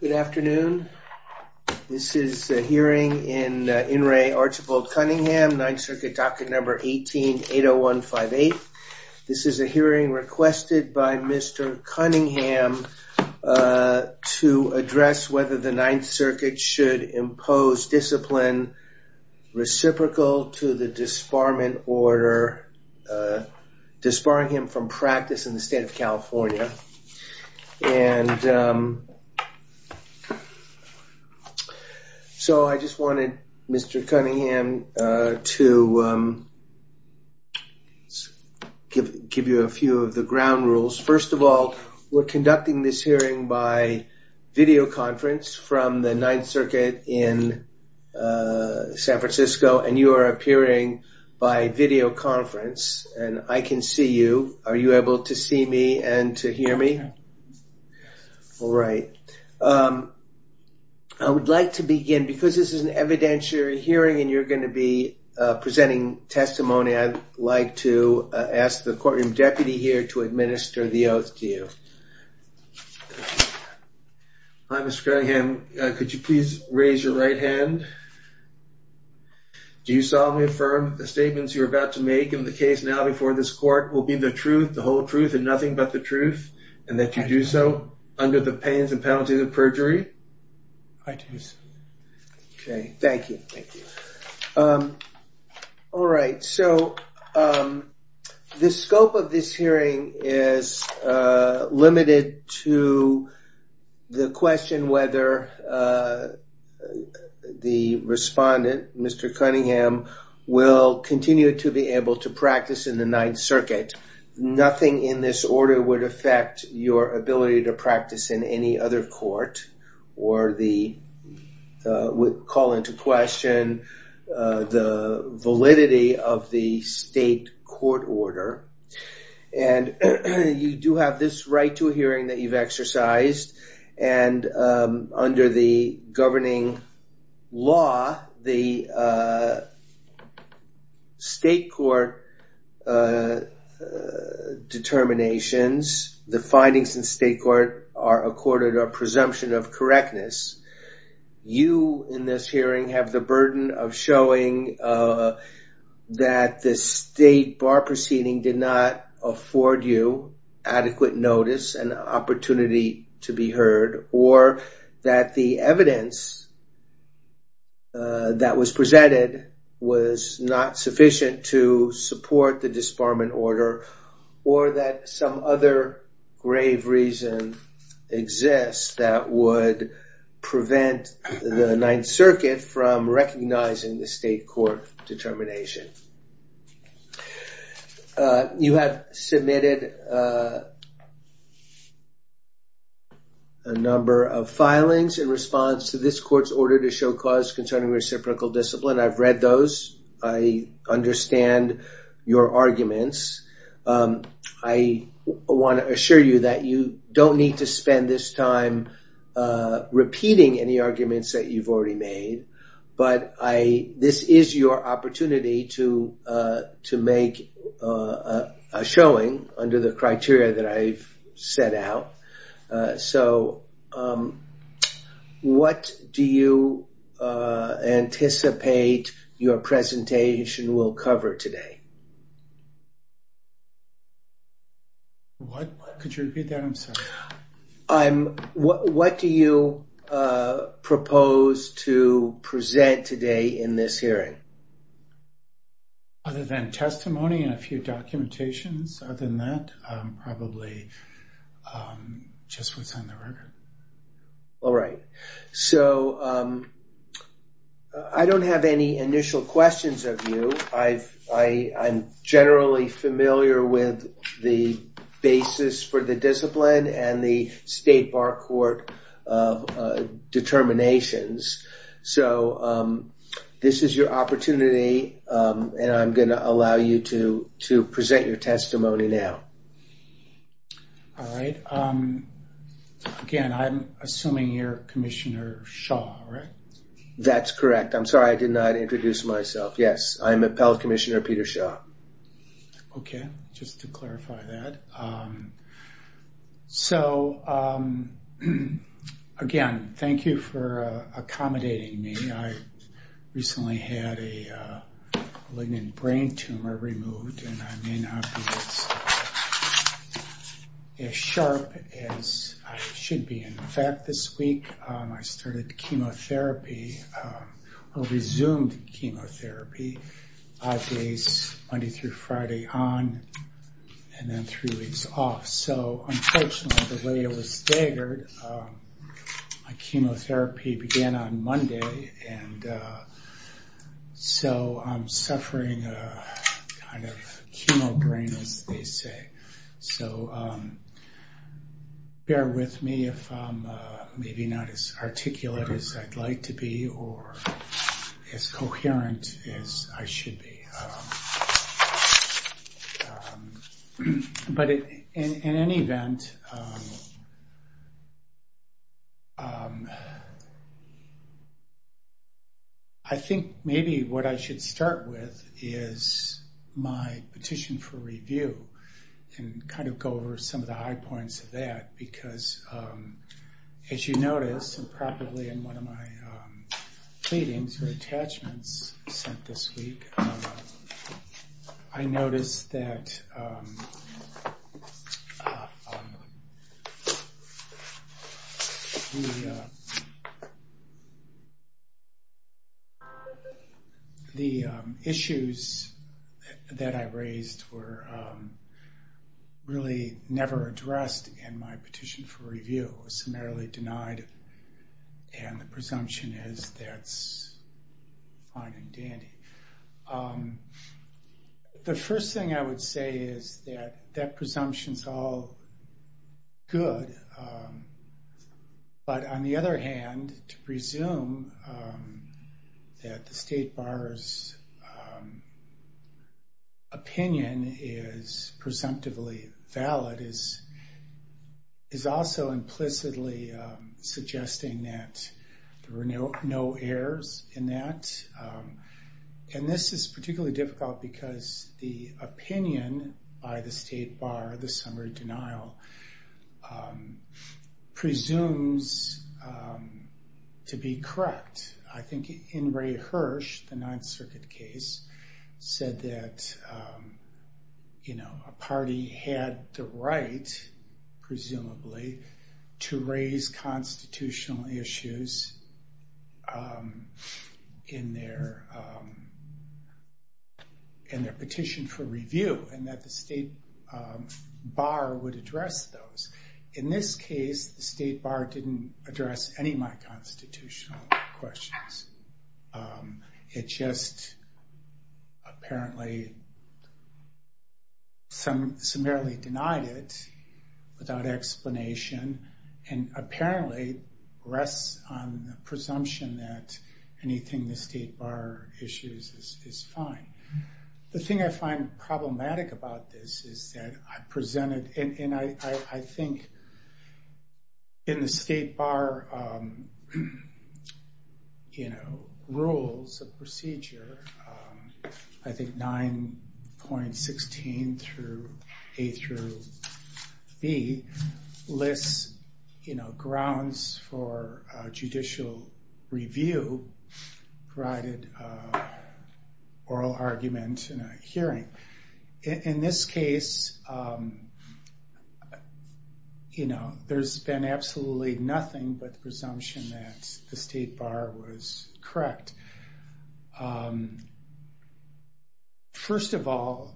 Good afternoon. This is the hearing in In Re Archibald Cunningham, Ninth Circuit docket number 1880158. This is a hearing requested by Mr. Cunningham to address whether the Ninth Circuit should impose discipline reciprocal to the disbarment order disbarring him from practice in the state of California. And so I just wanted Mr. Cunningham to give you a few of the ground rules. First of all, we're conducting this hearing by video conference from the Ninth Circuit in San Francisco. And I can see you. Are you able to see me and to hear me? All right. I would like to begin, because this is an evidentiary hearing and you're going to be presenting testimony, I'd like to ask the courtroom deputy here to administer the oath to you. Hi, Mr. Cunningham. Could you please raise your right hand? Do you solemnly affirm the decision you're about to make in the case now before this court will be the truth, the whole truth, and nothing but the truth, and that you do so under the penalty of perjury? I do. Okay. Thank you. Thank you. All right. So the scope of this hearing is limited to the question whether the respondent, Mr. Cunningham, will continue to be able to practice in the Ninth Circuit. Nothing in this order would affect your ability to practice in any other court or call into question the validity of the state court order. And you do have this right to a hearing that you've exercised, and under the governing law, the state court determinations, the findings in the state court are accorded a presumption of correctness. You in this hearing have the burden of showing that the state bar proceeding did not afford you adequate notice and opportunity to be heard, or that the evidence that was presented was not sufficient to support the disbarment order, or that some other grave reason exists that would prevent the Ninth Circuit from recognizing the state court determination. You have submitted a number of filings in response to this court's order to show cause concerning reciprocal discipline. I've read those. I understand your arguments. I want to assure you that you don't need to spend this time repeating any arguments that you've already made, but this is your opportunity to make a showing under the criteria that I've set out. So what do you anticipate your presentation will cover today? What could you repeat the answer? What do you propose to present today in this hearing? Other than testimony and a few documentations, other than that, probably just what's on the familiar with the basis for the discipline and the state bar court determinations. So this is your opportunity, and I'm going to allow you to present your testimony now. All right. Again, I'm assuming you're Commissioner Shaw, right? That's correct. I'm sorry I did not introduce myself. Yes, I'm Appellate Commissioner Peter Shaw. Okay. Just to clarify that. So again, thank you for accommodating me. I recently had a ligand brain tumor removed, and I may not be as sharp as I should be in fact this week. I started resumed chemotherapy five days, Monday through Friday on, and then three weeks off. So unfortunately, the way it was staggered, my chemotherapy began on Monday, and so I'm suffering a kind of chemo brain injury, as they say. So bear with me if I'm maybe not as articulate as I'd like to be, or as coherent as I should be. But in any event, I think maybe what I should start with is my petition for review, and kind of go over some of the high points of that, because as you notice, improperly in one of my pleadings or attachments sent this week, I noticed that the issues that I presumption is that's fine and dandy. The first thing I would say is that that presumption is all good. But on the other hand, to presume that the state bar's opinion is presumptively valid is also implicitly suggesting that there were no errors in that. And this is particularly difficult because the opinion by the state bar, the summary denial, presumes to be correct. I think in Ray said that a party had the right, presumably, to raise constitutional issues in their petition for review, and that the state bar would address those. In this case, the state bar didn't address any of the constitutional questions. It just apparently, summarily denied it without explanation, and apparently rests on the presumption that anything the state bar issues is fine. The thing I find problematic about this is that I presented, and I think in the state bar rules of procedure, I think 9.16 through A through B lists grounds for judicial review, provided oral argument in a hearing. In this First of all,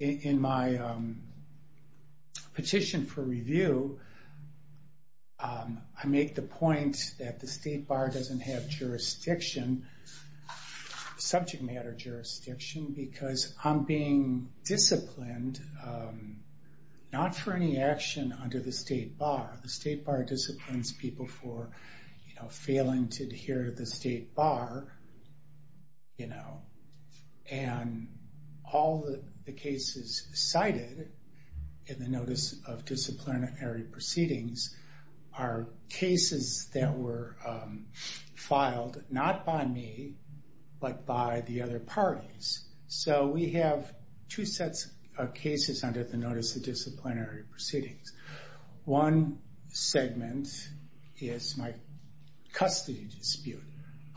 in my petition for review, I make the point that the state bar doesn't have jurisdiction, subject matter jurisdiction, because I'm being disciplined not for any action under the state bar. The state bar disciplines people for failing to adhere to the state bar, and all the cases cited in the Notice of Disciplinary Proceedings are cases that were filed not by me, but by the other parties. So we have two sets of cases under the is my custody dispute.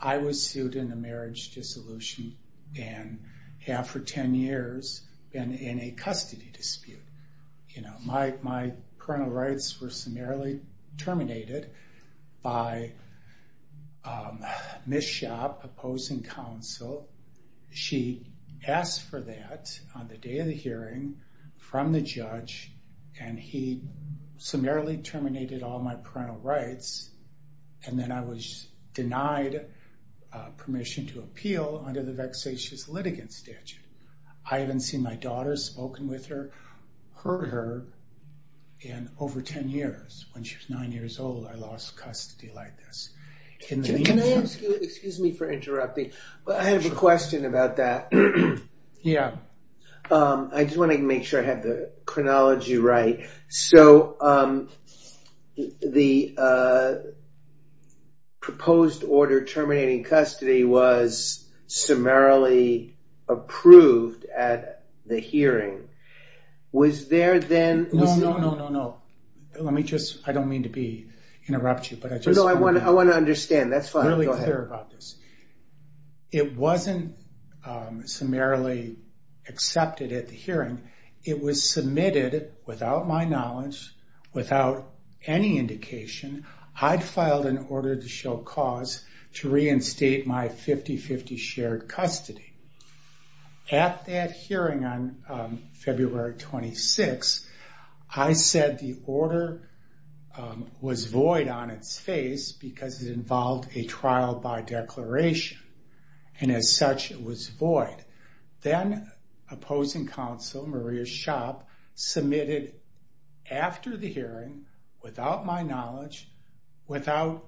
I was sued in a marriage dissolution, and after ten years, been in a custody dispute. You know, my criminal rights were summarily terminated by Ms. Schaap, opposing counsel. She asked for that on the day of my criminal rights, and then I was denied permission to appeal under the vexatious litigant statute. I haven't seen my daughter, spoken with her, heard her in over ten years. When she was nine years old, I lost custody like this. Can I ask you, excuse me for interrupting, but I have a question about that. I just want to make sure I have the chronology right. So the proposed order terminating custody was summarily approved at the hearing. Was there then No, no, no, no, no. Let me just, I don't mean to be, interrupt you, but I just want to understand. That's fine. It wasn't summarily accepted at the hearing. It was submitted without my knowledge, without any indication. I'd filed an I said the order was void on its face because it involved a trial by declaration, and as such, it was void. Then opposing counsel, Maria Schaap, submitted after the hearing, without my knowledge, without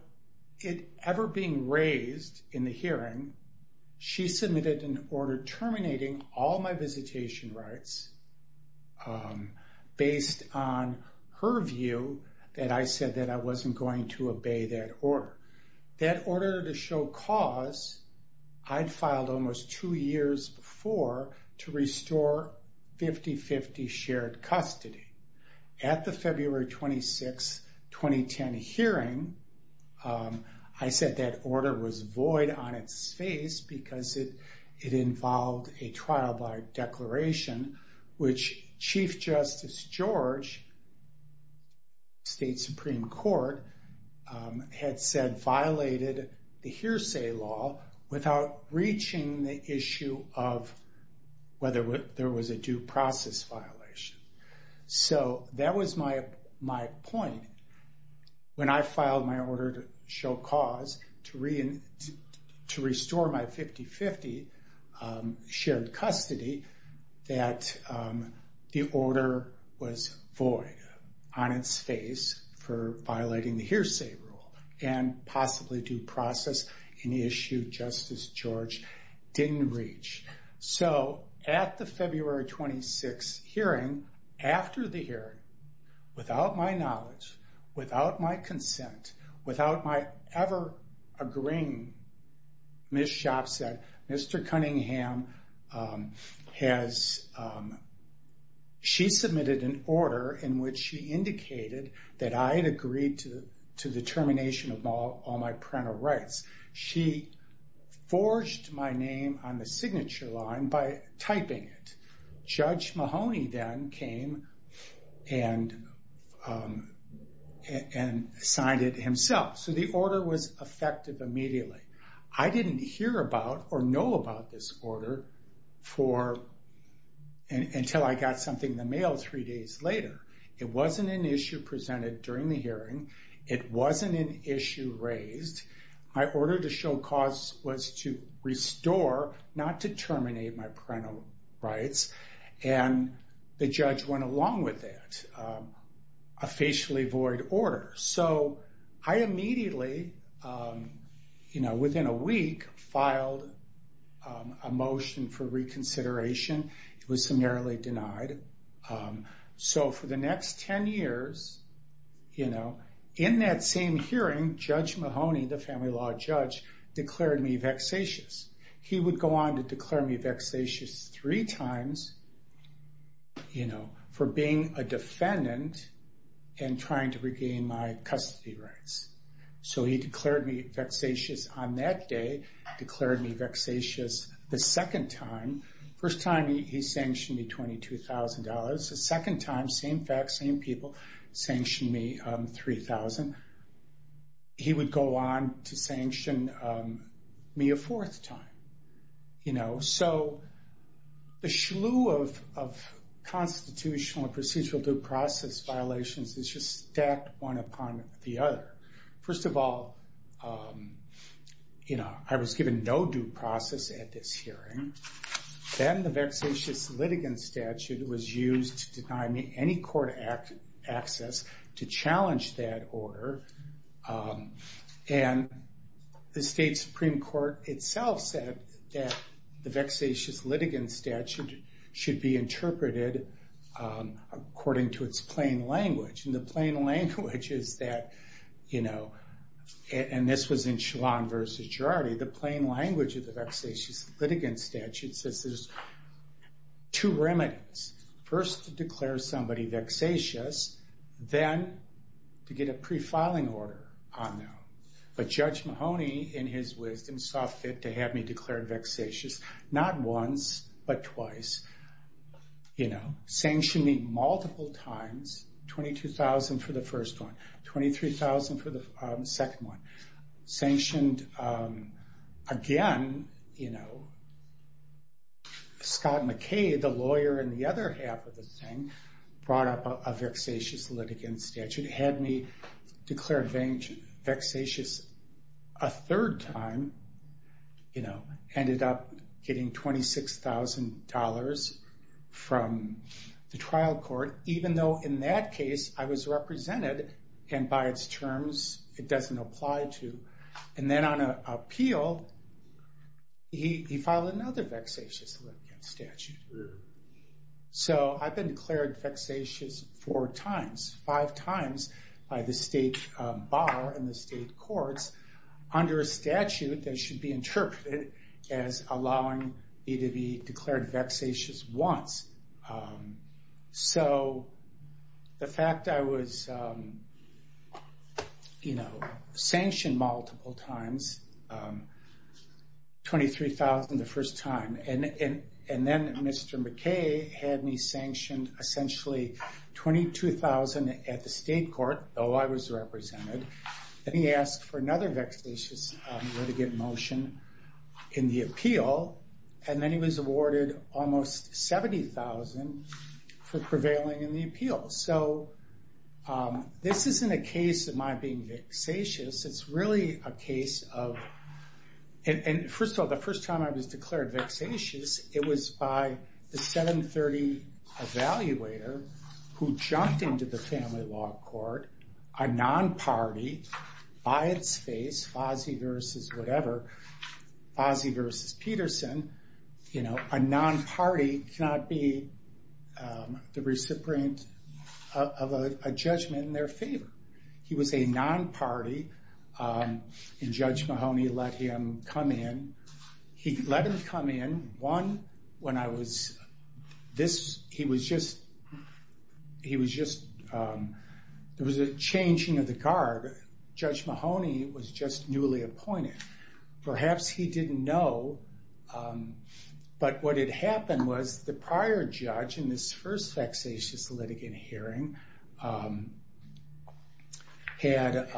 it ever being raised in the hearing, she raised on her view that I said that I wasn't going to obey that order. That order to show cause, I'd filed almost two years before to restore 50-50 shared custody. At the February 26, 2010 hearing, I said that order was void on its face because it involved a trial by declaration, which Chief Justice George, state Supreme Court, had said violated the hearsay law without reaching the issue of whether there was a due process violation. So that was my point. When I filed my 50-50 shared custody, that the order was void on its face for violating the hearsay rule and possibly due process in the issue Justice George didn't reach. So at the February 26 hearing, after the hearing, without my knowledge, without my consent, without my ever agreeing, Ms. Schaap said, Mr. Cunningham has – she submitted an order in which she indicated that I had agreed to the termination of all my parental rights. She forged my name on the signature line by typing it. Judge Mahoney then came and signed it and it was effective immediately. I didn't hear about or know about this order for – until I got something in the mail three days later. It wasn't an issue presented during the hearing. It wasn't an issue raised. My order to show cause was to restore, not to terminate, my within a week, filed a motion for reconsideration. It was summarily denied. So for the next 10 years, in that same hearing, Judge Mahoney, the family law judge, declared me vexatious. He would go on to declare me vexatious three times for being a defendant and trying to regain my rights. He declared me vexatious on that day, declared me vexatious the second time. First time, he sanctioned me $22,000. The second time, same facts, same people, sanctioned me $3,000. He would go on to sanction me a fourth time. So a slew of constitutional and procedural due process violations stacked one upon the other. First of all, I was given no due process at this hearing. Then the vexatious litigant statute was used to to challenge that order. And the state Supreme Court itself said that the vexatious litigant statute should be interpreted according to its plain language. And the plain language is that, and this was in Schwan v. Gerardi, the plain language of the vexatious litigant statute says there's two ways to declare you vexatious. Then to get a pre-filing order on you. But Judge Mahoney, in his way, saw fit to have me declared vexatious not once, but twice, you know, sanctioning me multiple times, $22,000 for the first one, $23,000 for the second one. Sanctioned again, you know, Scott McKay, the vexatious litigant statute had me declared vexatious a third time, you know, ended up getting $26,000 from the trial court, even though in that case, I was four times, five times by the state bar and the state courts. Under statute, they should be interpreted as allowing me to be declared vexatious once. So, the fact I was, you know, $22,000 at the state court, though I was represented, and he asked for another vexatious litigant motion in the appeal, and then he was awarded almost $70,000 for prevailing in the appeal. So, this isn't a case of my being vexatious. It's really a case of, and first of all, the first time I was declared vexatious, it was by the 730 evaluator who jumped into the family law court, a non-party, by its face, Fozzi versus whatever, Fozzi versus Peterson, you know, a non-party cannot be the judge of a judgment in their favor. He was a non-party, and Judge Mahoney let him come in. He let him come in, one, when I was, this, he was just, he was just, it was a changing of the guard. Judge Mahoney was just newly appointed. Perhaps he didn't know, but what had happened was the prior judge, in this first vexatious litigant hearing, had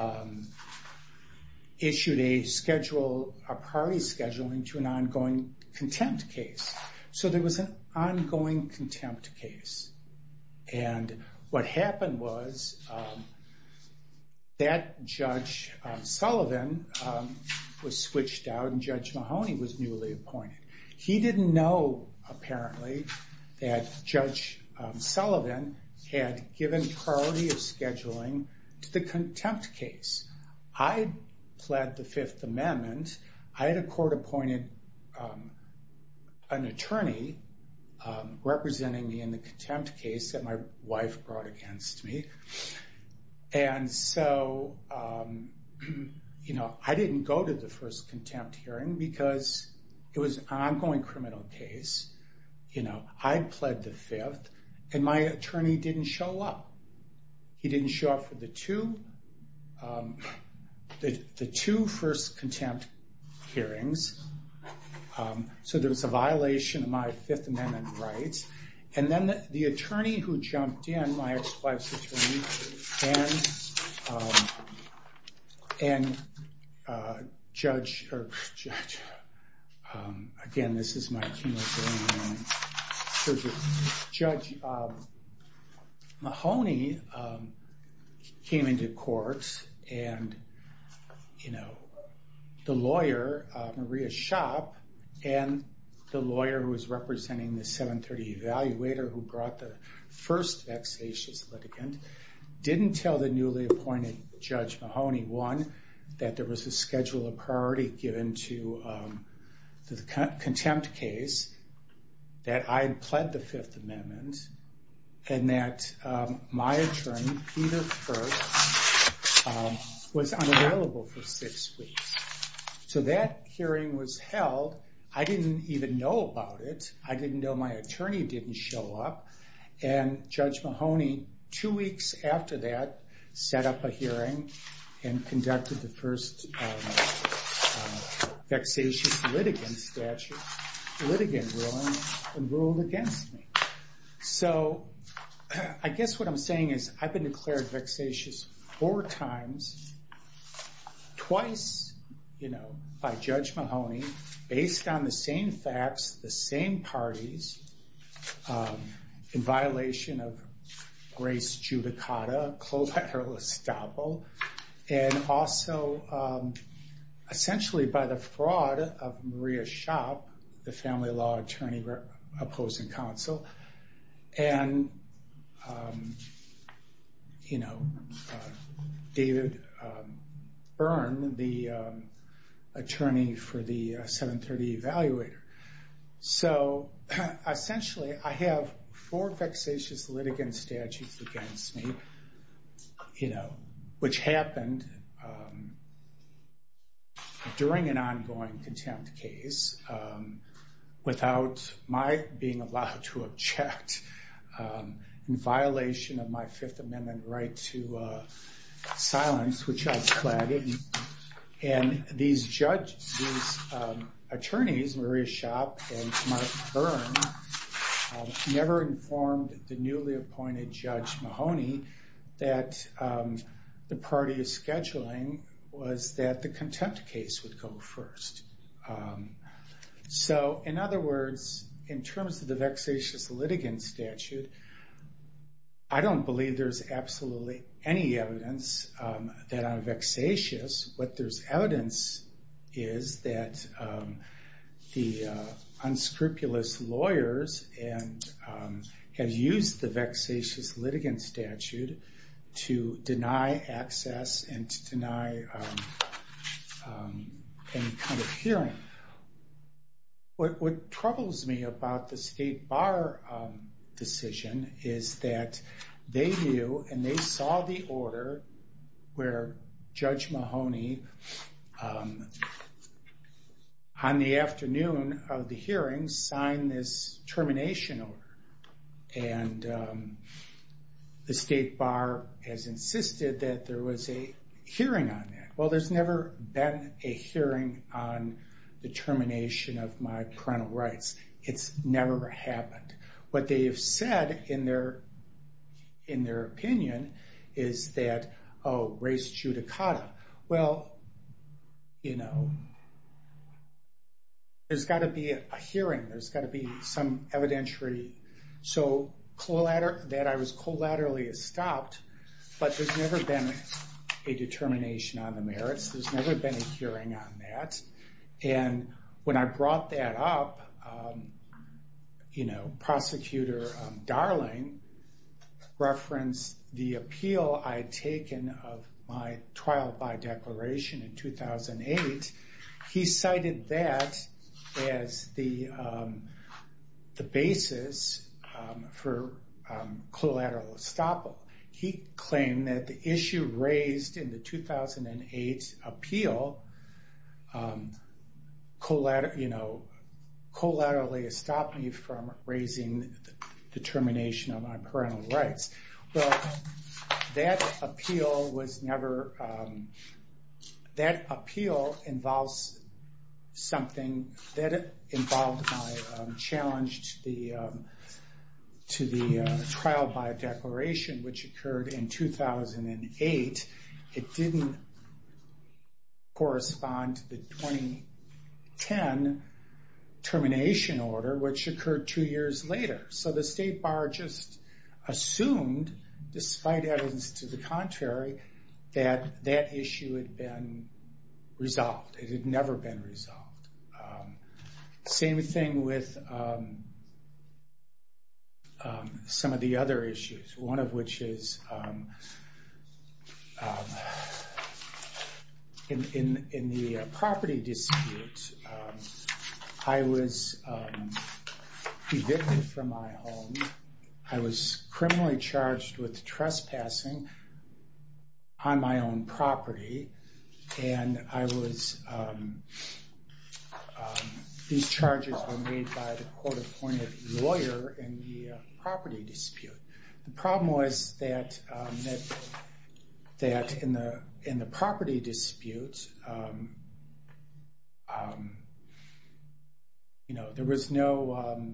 issued a schedule, a party schedule, into an ongoing contempt case. So, there was an ongoing contempt case, and what happened was that Judge Sullivan was switched out, and Judge Mahoney was newly appointed. He didn't know, apparently, that Judge Sullivan had given priority of scheduling to the contempt case. I pled the Fifth Amendment. I had a court appointed an attorney representing me in the contempt case that my wife brought against me, and so, you know, I didn't go to the first contempt hearing, because it was an ongoing criminal case. You know, I pled the Fifth, and my attorney didn't show up. He didn't show up for the two, the two first contempt hearings, so there was a violation of my Fifth Amendment rights, and then the attorney who jumped in, my ex-wife's attorney, and, and Judge, again, this is my, Judge Mahoney came into court, and, you know, the lawyer, Maria Schopp, and the lawyer who was representing the 730 evaluator who brought the first vexatious litigant, didn't tell the newly appointed Judge Mahoney, one, that there was a schedule of priority given to the contempt case, that I had pled the Fifth Amendment, and that my attorney, Peter Kirk, was unavailable for Fifth speech. So that hearing was held. I didn't even know about it. I didn't know my attorney didn't show up, and Judge Mahoney, two weeks after that, set up a hearing and conducted the first vexatious litigant statute, litigant ruling, and ruled against me. So, I guess what I'm saying is, I've been declared vexatious four times, twice, you know, by Judge Mahoney, based on the same facts, the same parties, in violation of Grace Giudicata, and also, essentially, by the fraud of Maria Schopp, the family law attorney opposing counsel. And, you know, David Byrne, the attorney for the 730 evaluator. So, essentially, I have four vexatious litigant statutes against me, you know, which happened during an ongoing contempt case, without my being allowed to object, in violation of my Fifth Amendment right to silence, which I pled. And these judges, these attorneys, Maria Schopp and Mark Byrne, never informed the newly appointed Judge Mahoney that the priority of scheduling was that the contempt case would go first. So, in other words, in terms of the vexatious litigant statute, I don't believe there's absolutely any evidence that I'm vexatious. What there's evidence is that the unscrupulous lawyers had used the vexatious litigant statute to deny access and to deny any kind of hearing. What troubles me about the State Bar decision is that they knew and they saw the order where Judge Mahoney, on the afternoon of the hearing, signed this termination order. And the State Bar has insisted that there was a hearing on that. Well, there's never been a hearing on the termination of my parental rights. It's never happened. What they have said in their opinion is that, oh, race judicata. Well, you know, there's got to be a hearing. There's got to be some evidentiary. So, that I was collaterally escaped, but there's never been a determination on the merits. There's never been a hearing on that. And when I brought that up, you know, Prosecutor Darling referenced the appeal I'd taken of my trial by declaration in 2008. He cited that as the basis for collateral estoppel. He claimed that the issue raised in the 2008 appeal, you know, collaterally stopped me from raising determination on my parental rights. Well, that appeal involves something that involves my challenge to the trial by declaration, which occurred in 2008. It didn't correspond to the 2010 termination order, which occurred two years later. So, the State Bar just assumed, despite evidence to the contrary, that that issue had been resolved. It had never been resolved. Same thing with some of the other issues, one of which is in the property dispute, I was evicted from my home. I was criminally charged with trespassing on my own property. And I was – these charges were made by the court-appointed lawyer in the property dispute. The problem was that in the property dispute, you know, there was no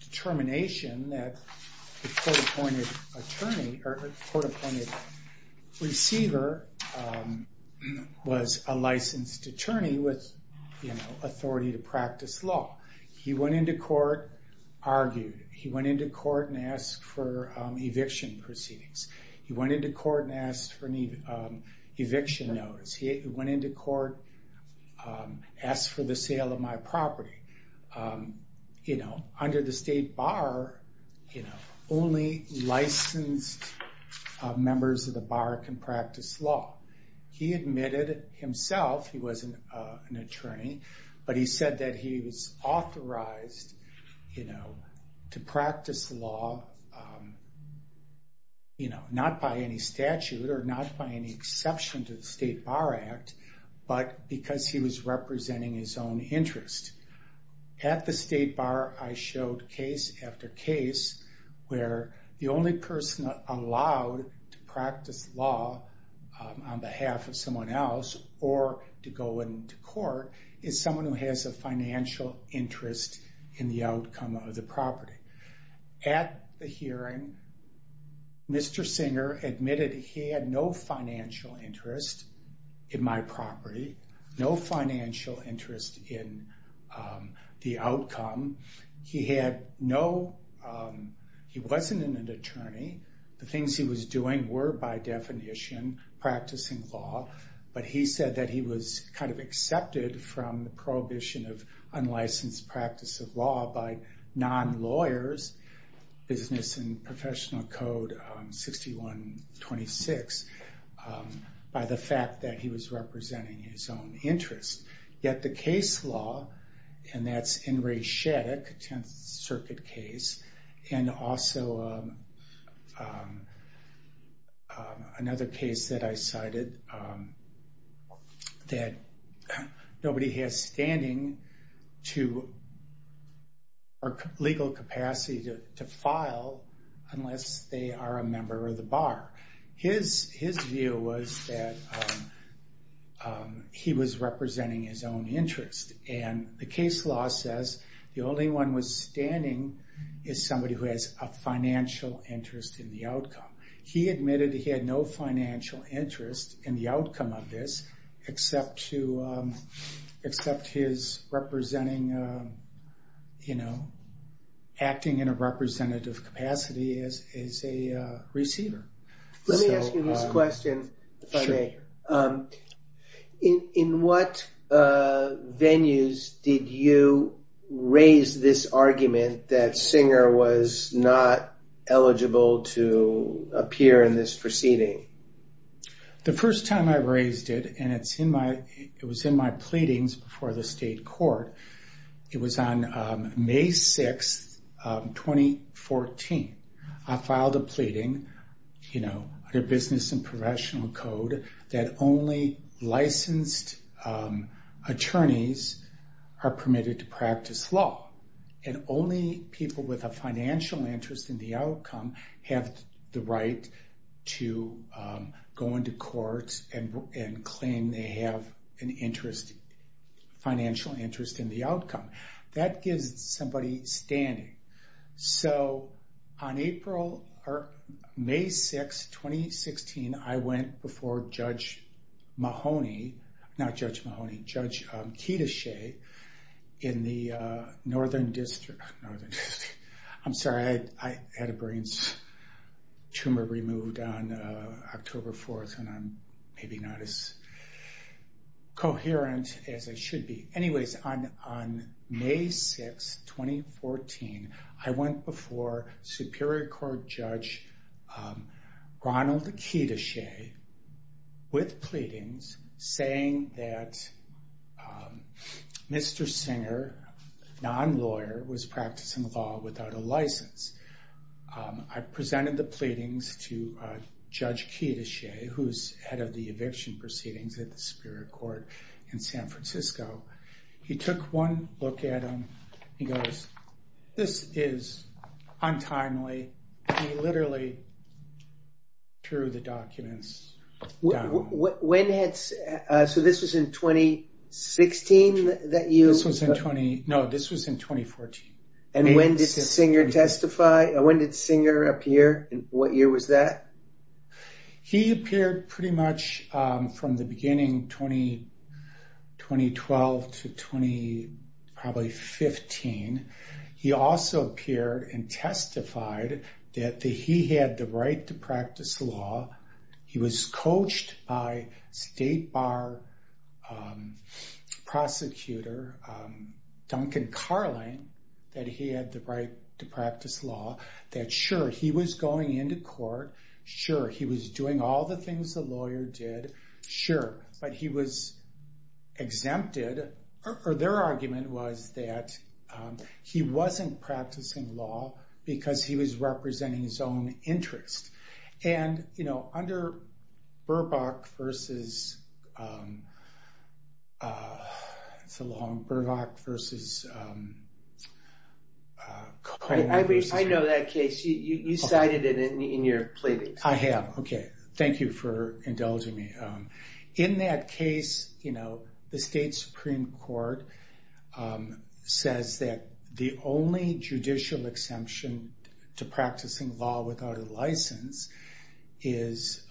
determination that the court-appointed attorney or court-appointed receiver was a licensed attorney with, you know, authority to practice law. He went into court, argued. He went into court and asked for eviction proceedings. He went into court and asked for eviction notice. He went into court, asked for the sale of my property. You know, under the State Bar, you know, only licensed members of the Bar can practice law. He admitted himself he was an attorney, but he said that he was authorized, you know, to practice law, you know, not by any statute or not by any exception to the State Bar Act, but because he was representing his own interest. At the State Bar, I showed case after case where the only person allowed to practice law on behalf of someone else or to go into court is someone who has a financial interest in the outcome of the property. At the hearing, Mr. Singer admitted he had no financial interest in my property, no financial interest in the outcome. He had no – he wasn't an attorney. The things he was doing were, by definition, practicing law. But he said that he was kind of accepted from the prohibition of unlicensed practice of law by non-lawyers, Business and Professional Code 6126, by the fact that he was representing his own interest. Yet the case law, and that's In re Sheddick, a Tenth Circuit case, and also another case that I cited, that nobody has standing to – or legal capacity to file unless they are a member of the Bar. His view was that he was representing his own interest, and the case law says the only one with standing is somebody who has a financial interest in the outcome. Let me ask you this question, if I may. In what venues did you raise this argument that Singer was not eligible to practice law? The first time I raised it, and it's in my – it was in my pleadings before the state court, it was on May 6, 2014. I filed a pleading, you know, under Business and Professional Code, that only licensed attorneys are permitted to practice law, and only people with a financial interest in the outcome have the right to practice law. They have the right to go into courts and claim they have an interest, financial interest in the outcome. That gives somebody standing. So, on April – or May 6, 2016, I went before Judge Mahoney – not Judge Mahoney, Judge Ketichet in the Northern District – I'm sorry, I had a brain tumor removed on October 4th, and I'm maybe not as coherent as I should be. Anyways, on May 6, 2014, I went before Superior Court Judge Ronald Ketichet with pleadings saying that Mr. Singer, non-lawyer, was practicing law without a license. I presented the pleadings to Judge Ketichet, who's head of the eviction proceedings at the Superior Court in San Francisco. He took one look at them. He goes, this is untimely. He literally threw the documents down. When – so this was in 2016 that you – This was in – no, this was in 2014. And when did Singer testify? When did Singer appear, and what year was that? He appeared pretty much from the beginning, 2012 to probably 2015. He also appeared and testified that he had the right to practice law. He was coached by state bar prosecutor, Duncan Carling, that he had the right to practice law. That, sure, he was going into court. Sure, he was doing all the things the lawyer did. Sure. But he was exempted, or their argument was that he wasn't practicing law because he was representing his own interests. And, you know, under Burbach versus – it's a long – Burbach versus Carling. I know that case. You cited it in your plea. I have, okay. Thank you for indulging me. In that case, you know, the state Supreme Court says that the only judicial exemption to practicing law without a license is,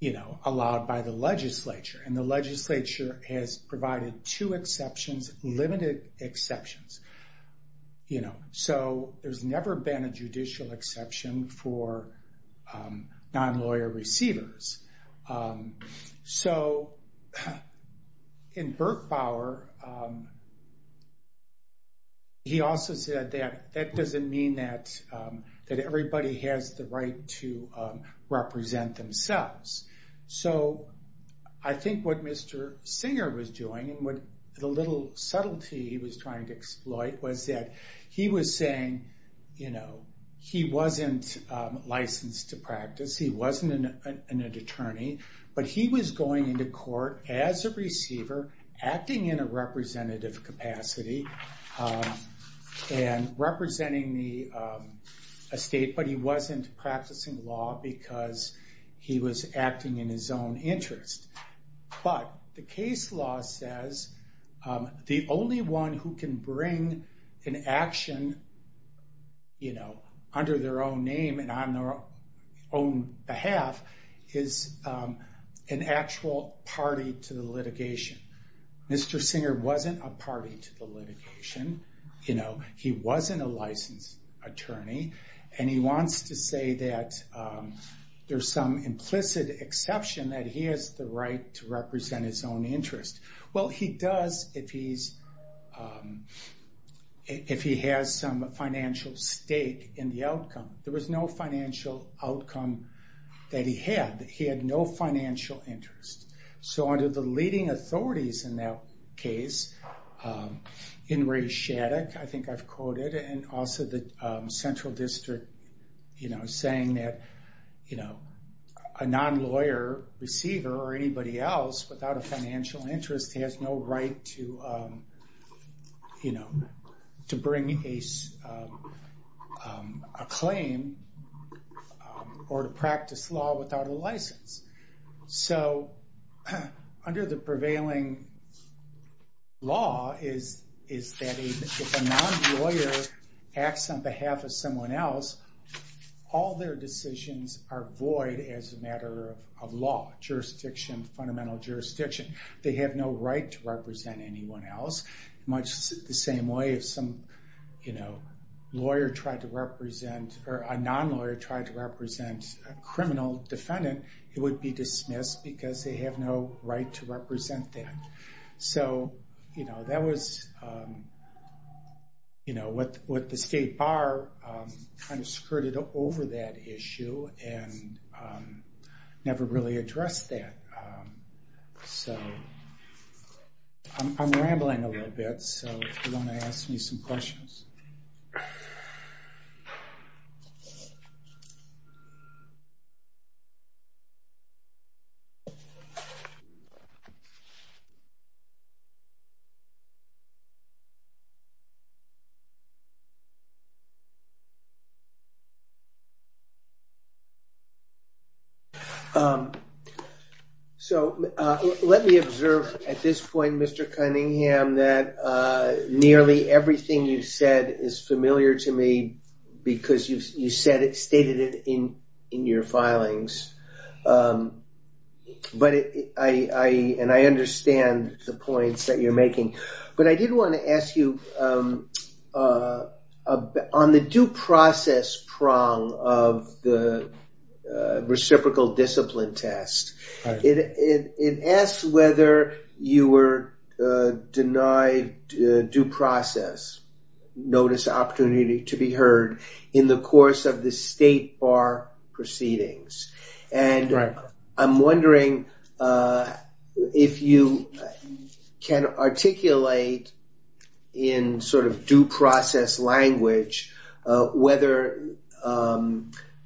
you know, allowed by the legislature. And the legislature has provided two exceptions, limited exceptions, you know. So there's never been a judicial exception for non-lawyer receivers. So in Birkbauer, he also said that that doesn't mean that everybody has the right to represent themselves. So I think what Mr. Singer was doing and what the little subtlety he was trying to exploit was that he was saying, you know, he wasn't licensed to practice. He wasn't an attorney. But he was going into court as a receiver, acting in a representative capacity, and representing the state. But he wasn't practicing law because he was acting in his own interest. But the case law says the only one who can bring an action, you know, under their own name and on their own behalf is an actual party to the litigation. Mr. Singer wasn't a party to the litigation, you know. He wasn't a licensed attorney. And he wants to say that there's some implicit exception that he has the right to represent his own interest. Well, he does if he has some financial stake in the outcome. There was no financial outcome that he had. He had no financial interest. So under the leading authorities in that case, Enrique Shattuck, I think I've quoted, and also the Central District, you know, saying that, you know, a non-lawyer receiver or anybody else without a financial interest has no right to, you know, to bring a claim or to practice law without a license. So under the prevailing law is that if a non-lawyer acts on behalf of someone else, all their decisions are void as a matter of law, jurisdiction, fundamental jurisdiction. They have no right to represent anyone else, much the same way if some, you know, lawyer tried to represent or a non-lawyer tried to represent a criminal defendant, it would be dismissed because they have no right to represent that. So, you know, that was, you know, what the State Bar kind of skirted over that issue and never really addressed that. So I'm rambling a little bit, so if you want to ask me some questions. So let me observe at this point, Mr. Cunningham, that nearly everything you said is familiar to me because you said it, stated it in your filings. But I, and I understand the points that you're making, but I did want to ask you on the due process prong of the reciprocal discipline test, it asks whether you were denied due process notice opportunity to be heard in the course of the State Bar proceedings. And I'm wondering if you can articulate in sort of due process language whether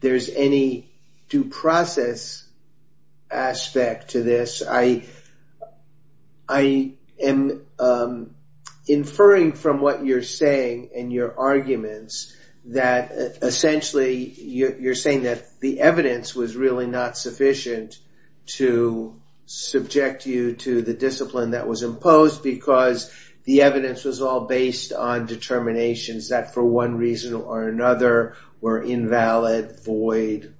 there's any due process aspect to this. I am inferring from what you're saying and your arguments that essentially you're saying that the evidence was really not sufficient to subject you to the discipline that was imposed because the evidence was all based on determinations that for one reason or another were invalid, void,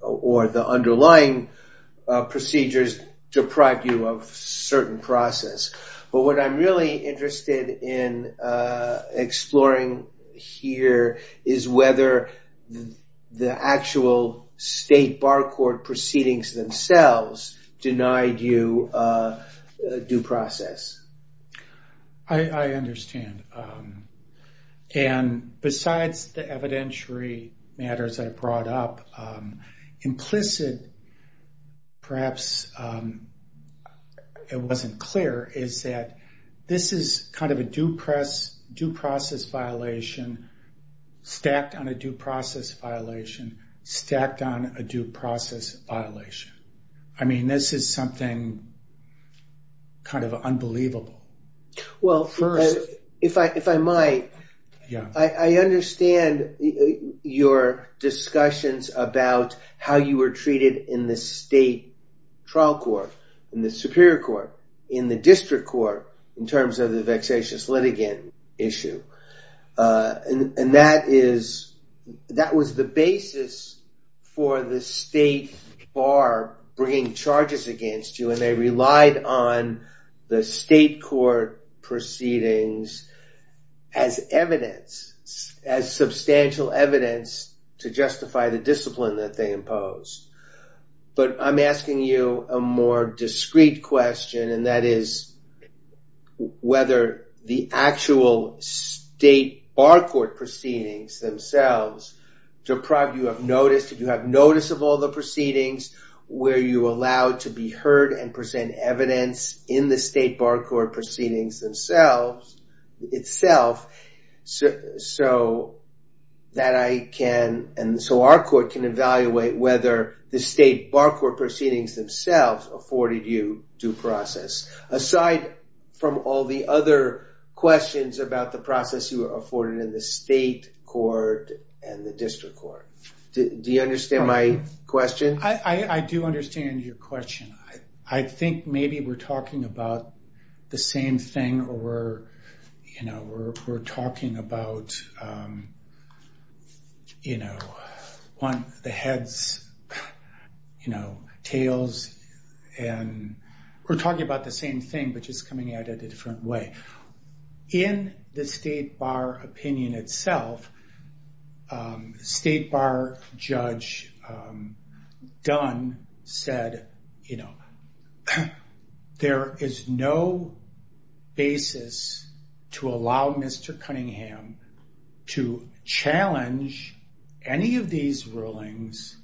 or the underlying procedures to proceed. And that may describe you of certain process. But what I'm really interested in exploring here is whether the actual State Bar court proceedings themselves denied you due process. I understand. And besides the evidentiary matters I brought up, implicit, perhaps it wasn't clear, is that this is kind of a due process violation stacked on a due process violation stacked on a due process violation. I mean, this is something kind of unbelievable. Well, if I might, I understand your discussions about how you were treated in the State Trial Court, in the Superior Court, in the District Court in terms of the vexatious litigant issue. And that was the basis for the State Bar bringing charges against you, and they relied on the State Court proceedings as evidence, as substantial evidence to justify the discipline that they imposed. But I'm asking you a more discreet question, and that is whether the actual State Bar court proceedings themselves deprived you of notice. Were you allowed to be heard and present evidence in the State Bar court proceedings themselves, itself, so that I can, and so our court can evaluate whether the State Bar court proceedings themselves afforded you due process. Aside from all the other questions about the profits you were afforded in the State Court and the District Court. Do you understand my question? I do understand your question. I think maybe we're talking about the same thing, or we're, you know, we're talking about, you know, the heads, you know, tails, and we're talking about the same thing, but just coming at it a different way. In the State Bar opinion itself, State Bar Judge Dunn said, you know, there is no basis to allow Mr. Cunningham to challenge any of these rulings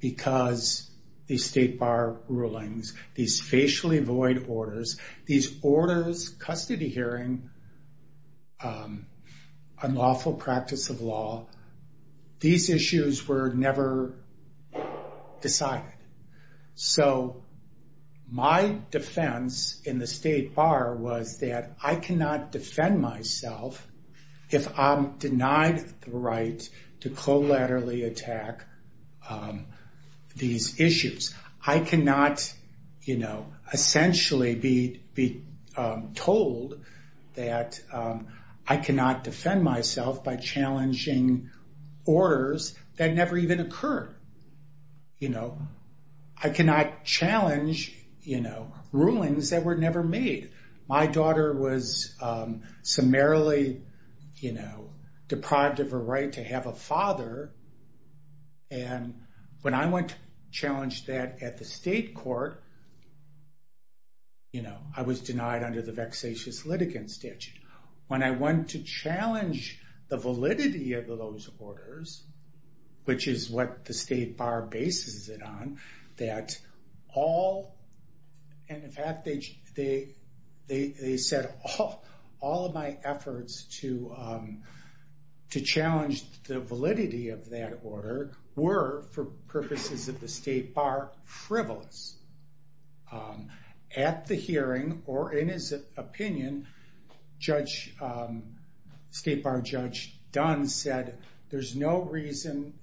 because the State Bar rulings, these facially void orders, these orders, custody hearing, unlawful practice of law, these issues were never decided. So my defense in the State Bar was that I cannot defend myself if I'm denied the right to collaterally attack these issues. I cannot, you know, essentially be told that I cannot defend myself by challenging orders that never even occurred. You know, I cannot challenge, you know, rulings that were never made. My daughter was summarily, you know, deprived of her right to have a father, and when I went to challenge that at the State Court, you know, I was denied under the vexatious litigant statute. When I went to challenge the validity of those orders, which is what the State Bar bases it on, that all, and in fact, they said all of my efforts to challenge the validity of that order were for purposes of the State Bar privilege. At the hearing, or in his opinion, State Bar Judge Dunn said there's no reason,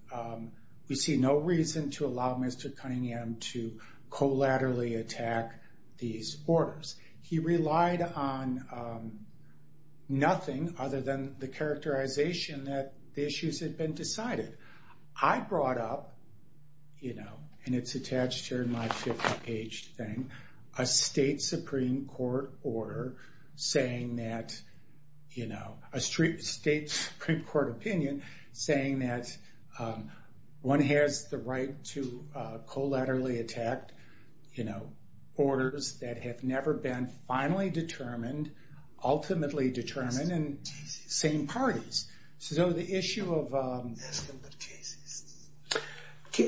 we see no reason to allow Mr. Cunningham to collaterally attack these orders. He relied on nothing other than the characterization that the issues had been decided. I brought up, you know, and it's attached to my 60-page thing, a State Supreme Court order saying that, you know, a State Supreme Court opinion saying that one has the right to collaterally attack, you know, orders that have never been finally determined, ultimately determined, and same parties. So the issue of...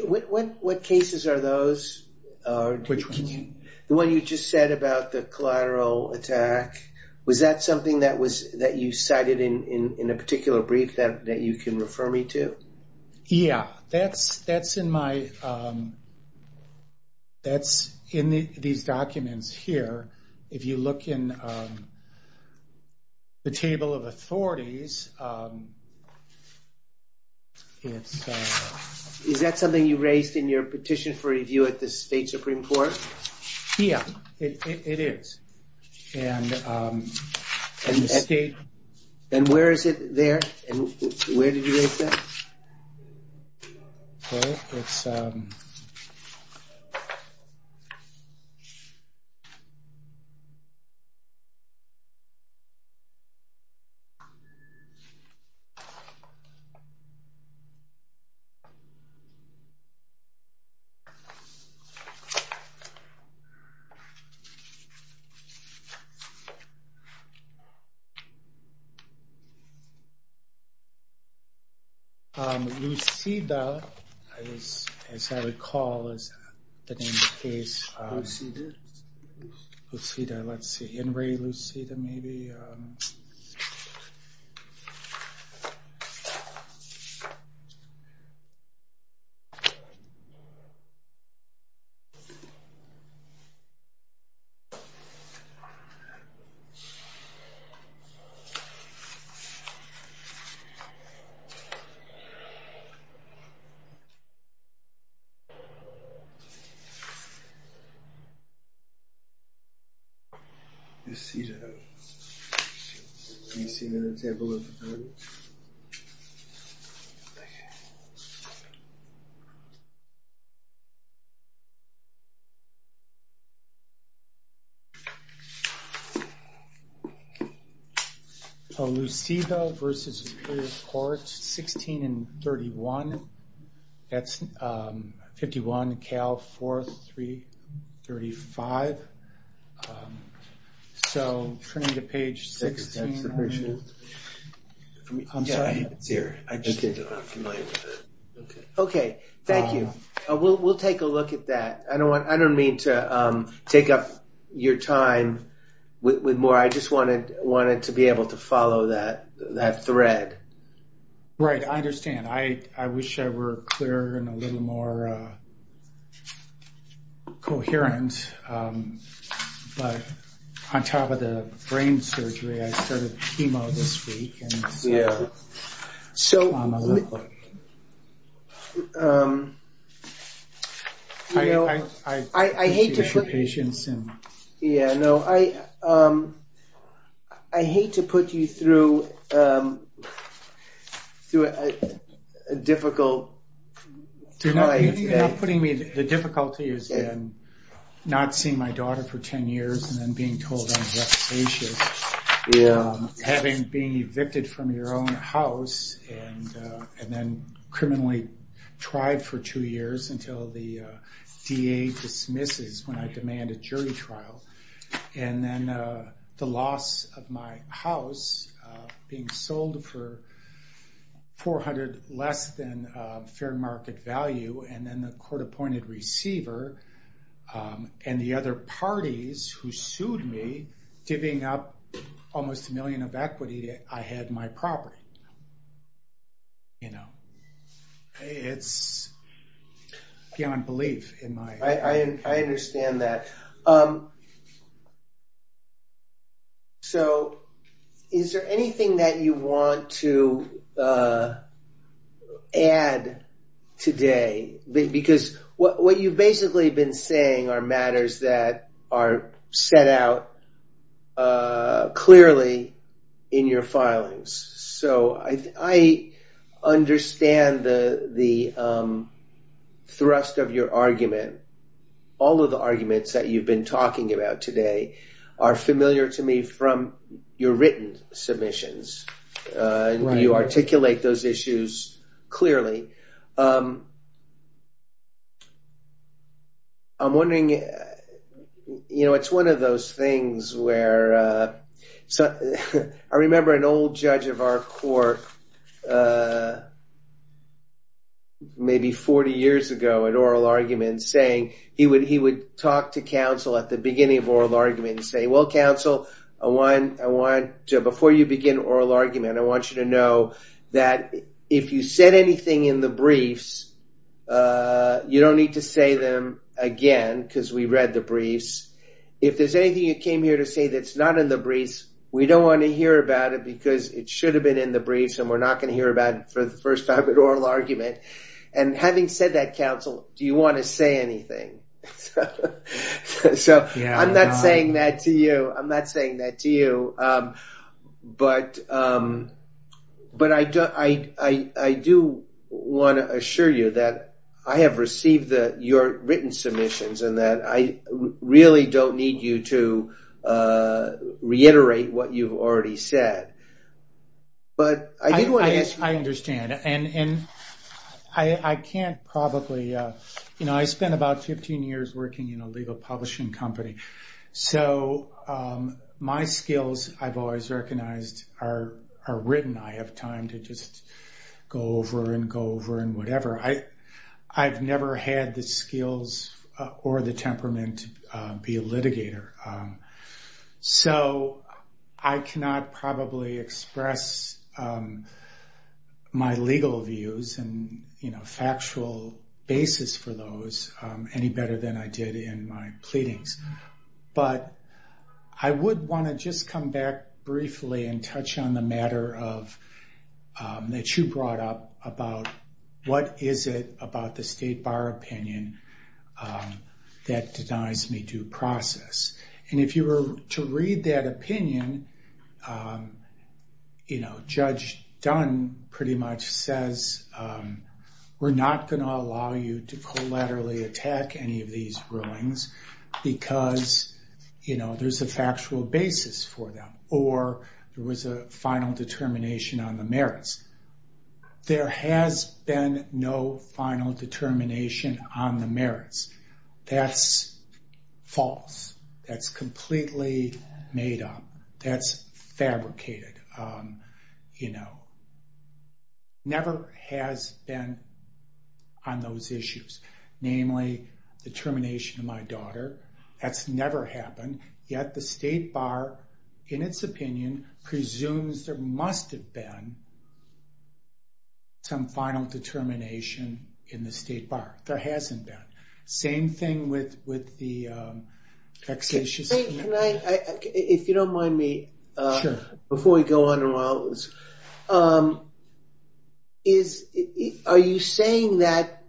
What cases are those? Which one? The one you just said about the collateral attack. Was that something that you cited in a particular brief that you can refer me to? Yeah, that's in my... That's in these documents here. If you look in the table of authorities... Is that something you raised in your petition for review at the State Supreme Court? Yeah, it is. And where is it there? And where did you raise that? Okay, it's... Lucida, as I recall, is the name of the case. Lucida? Lucida, let's see. Henry Lucida, maybe? Okay. Lucida. Anything in the table of authorities? Okay. Lucida versus Superior Court, 16 and 31. That's 51, Cal 4335. So turn to page 16. Okay, thank you. We'll take a look at that. I don't mean to take up your time with more. I just wanted to be able to follow that thread. Right, I understand. I wish I were clearer and a little more coherent. But on top of the brain surgery, I started chemo this week. Yeah, so... I hate to put... ...a difficult... You're putting me... The difficulty has been not seeing my daughter for 10 years and then being told I'm just patient. Yeah. Having been evicted from your own house and then criminally tried for two years until the DA dismisses when I demand a jury trial. And then the loss of my house being sold for 400 less than fair market value. And then the court-appointed receiver and the other parties who sued me giving up almost a million of equity that I had my property. You know, it's beyond belief in my... I understand that. So, is there anything that you want to add today? Because what you've basically been saying are matters that are set out clearly in your filings. So, I understand the thrust of your argument. All of the arguments that you've been talking about today are familiar to me from your written submissions. You articulate those issues clearly. I'm wondering, you know, it's one of those things where... I remember an old judge of our court, maybe 40 years ago, in oral argument saying... He would talk to counsel at the beginning of oral argument and say, Well, counsel, before you begin oral argument, I want you to know that if you said anything in the briefs, you don't need to say them again because we read the briefs. If there's anything you came here to say that's not in the briefs, we don't want to hear about it because it should have been in the briefs and we're not going to hear about it for the first time in oral argument. And having said that, counsel, do you want to say anything? So, I'm not saying that to you. But I do want to assure you that I have received your written submissions and that I really don't need you to reiterate what you've already said. But I do want to... I understand. And I can't probably... You know, I spent about 15 years working in a legal publishing company. So, my skills, I've always recognized, are written. I have time to just go over and go over and whatever. I've never had the skills or the temperament to be a litigator. So, I cannot probably express my legal views and factual basis for those any better than I did in my pleadings. But I would want to just come back briefly and touch on the matter that you brought up about what is it about the State Bar opinion that designs the due process. And if you were to read that opinion, you know, Judge Dunn pretty much says, we're not going to allow you to collaterally attack any of these rulings because, you know, there's a factual basis for them. Or there was a final determination on the merits. There has been no final determination on the merits. That's false. That's completely made up. That's fabricated. You know, never has been on those issues. Namely, the termination of my daughter. That's never happened. Yet the State Bar, in its opinion, presumes there must have been some final determination in the State Bar. There hasn't been. Same thing with the taxation. If you don't mind me, before we go on, are you saying that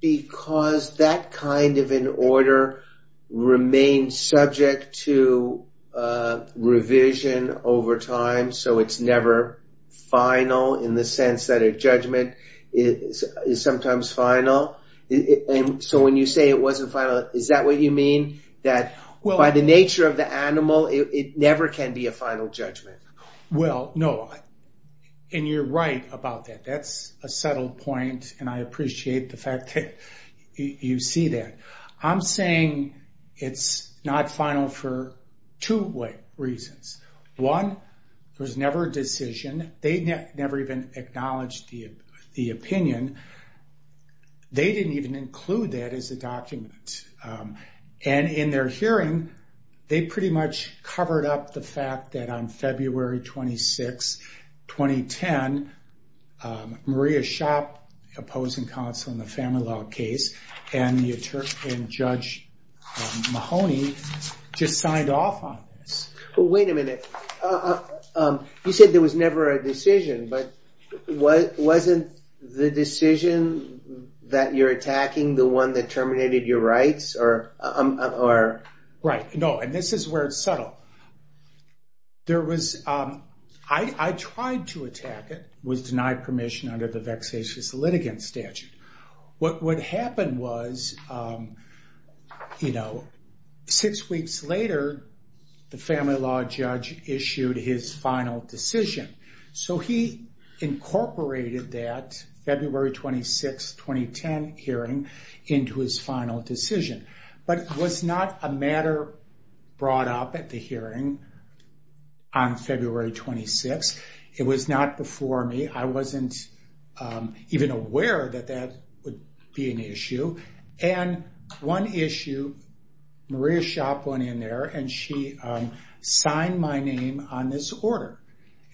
because that kind of an order remains subject to revision over time, so it's never final in the sense that a judgment is sometimes final. So when you say it wasn't final, is that what you mean? That by the nature of the animal, it never can be a final judgment? Well, no. And you're right about that. That's a settled point, and I appreciate the fact that you see that. I'm saying it's not final for two reasons. One, there's never a decision. They've never even acknowledged the opinion. They didn't even include that as a document. And in their hearing, they pretty much covered up the fact that on February 26, 2010, Maria Schott, opposing counsel in the family law case, and Judge Mahoney just signed off on it. Wait a minute. You said there was never a decision, but wasn't the decision that you're attacking the one that terminated your rights? Right. No, and this is where it's settled. I tried to attack it with denied permission under the vexatious litigant statute. What happened was, you know, six weeks later, the family law judge issued his final decision. So he incorporated that February 26, 2010 hearing into his final decision. But it was not a matter brought up at the hearing on February 26. It was not before me. I wasn't even aware that that would be an issue. And one issue, Maria Schott went in there, and she signed my name on this order.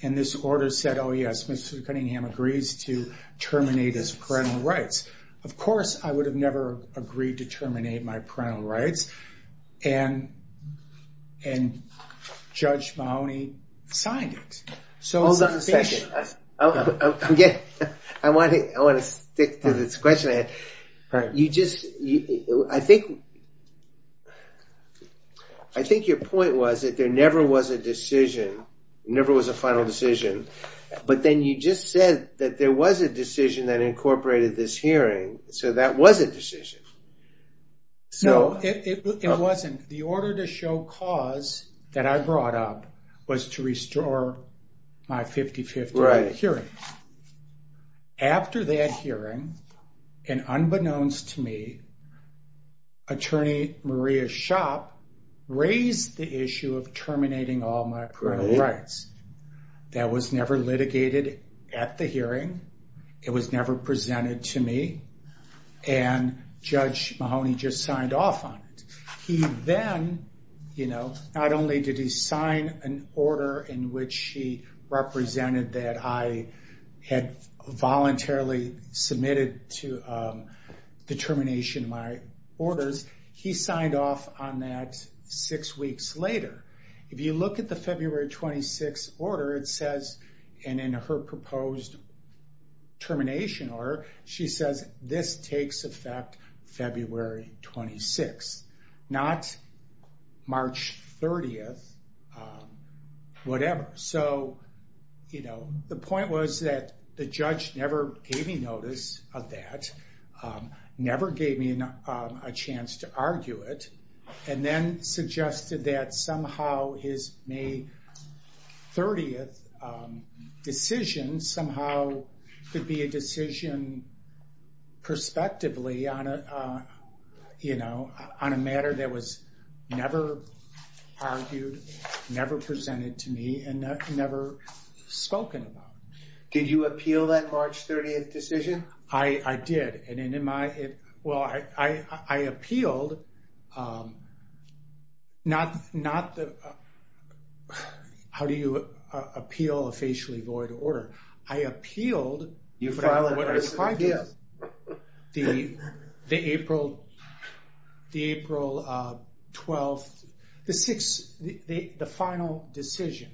And this order said, oh, yes, Mr. Cunningham agrees to terminate his parental rights. Of course, I would have never agreed to terminate my parental rights, and Judge Mahoney signed it. Hold on a second. I want to stick to this question. I think your point was that there never was a decision, never was a final decision. But then you just said that there was a decision that incorporated this hearing, so that was a decision. No, it wasn't. The order to show cause that I brought up was to restore my 50-50 hearing. After that hearing, and unbeknownst to me, Attorney Maria Schott raised the issue of terminating all my parental rights. That was never litigated at the hearing. It was never presented to me. And Judge Mahoney just signed off on it. He then, you know, not only did he sign an order in which he represented that I had voluntarily submitted to the termination of my orders, he signed off on that six weeks later. If you look at the February 26th order, it says, and in her proposed termination order, she said this takes effect February 26th, not March 30th, whatever. So, you know, the point was that the judge never gave me notice of that, never gave me a chance to argue it, and then suggested that somehow his May 30th decision somehow should be a decision prospectively on a matter that was never argued, never presented to me, and never spoken about. Did you appeal that March 30th decision? I did. Well, I appealed not the, how do you appeal a facially void order? I appealed the April 12th, the final decision.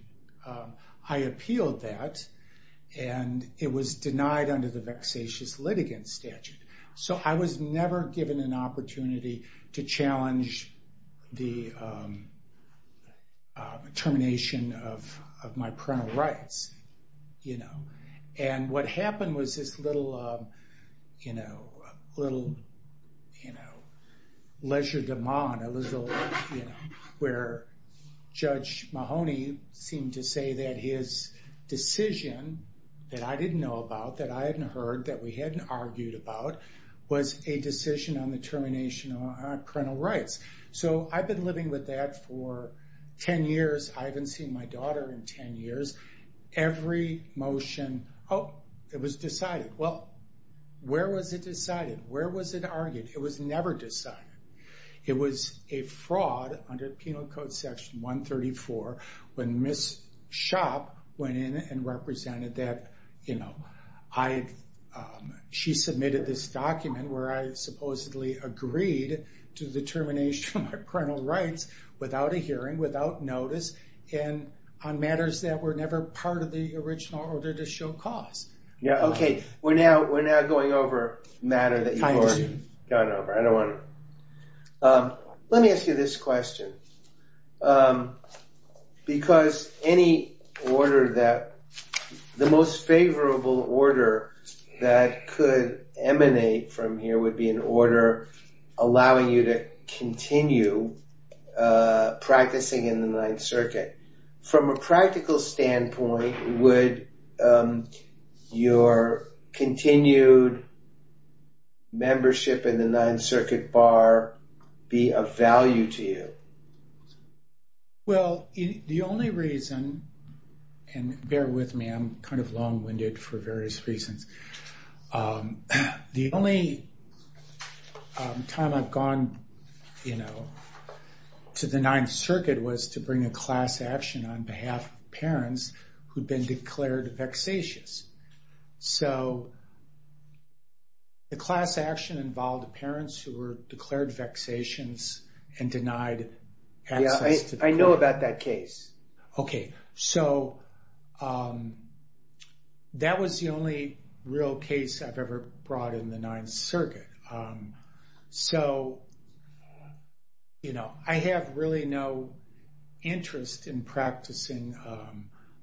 I appealed that, and it was denied under the vexatious litigant statute. So I was never given an opportunity to challenge the termination of my parental rights, you know. And what happened was this little, you know, little, you know, leisure demand, where Judge Mahoney seemed to say that his decision that I didn't know about, that I hadn't heard, that we hadn't argued about, was a decision on the termination of our parental rights. So I've been living with that for 10 years. I haven't seen my daughter in 10 years. Every motion, oh, it was decided. Well, where was it decided? Where was it argued? It was never decided. It was a fraud under Penal Code Section 134 when Ms. Schopp went in and represented that, you know, she submitted this document where I supposedly agreed to the termination of parental rights without a hearing, without notice, and on matters that were never part of the original order to show cause. Yeah, okay. We're now going over a matter that you've already gone over. I don't want to. Let me ask you this question. Because any order that, the most favorable order that could emanate from here would be an order allowing you to continue practicing in the Ninth Circuit. From a practical standpoint, would your continued membership in the Ninth Circuit bar be of value to you? Well, the only reason, and bear with me, I'm kind of long-winded for various reasons. The only time I've gone, you know, to the Ninth Circuit was to bring a class action on behalf of parents who'd been declared vexatious. So the class action involved parents who were declared vexatious and denied access to treatment. Yeah, I know about that case. Okay. So that was the only real case I've ever brought in the Ninth Circuit. So, you know, I have really no interest in practicing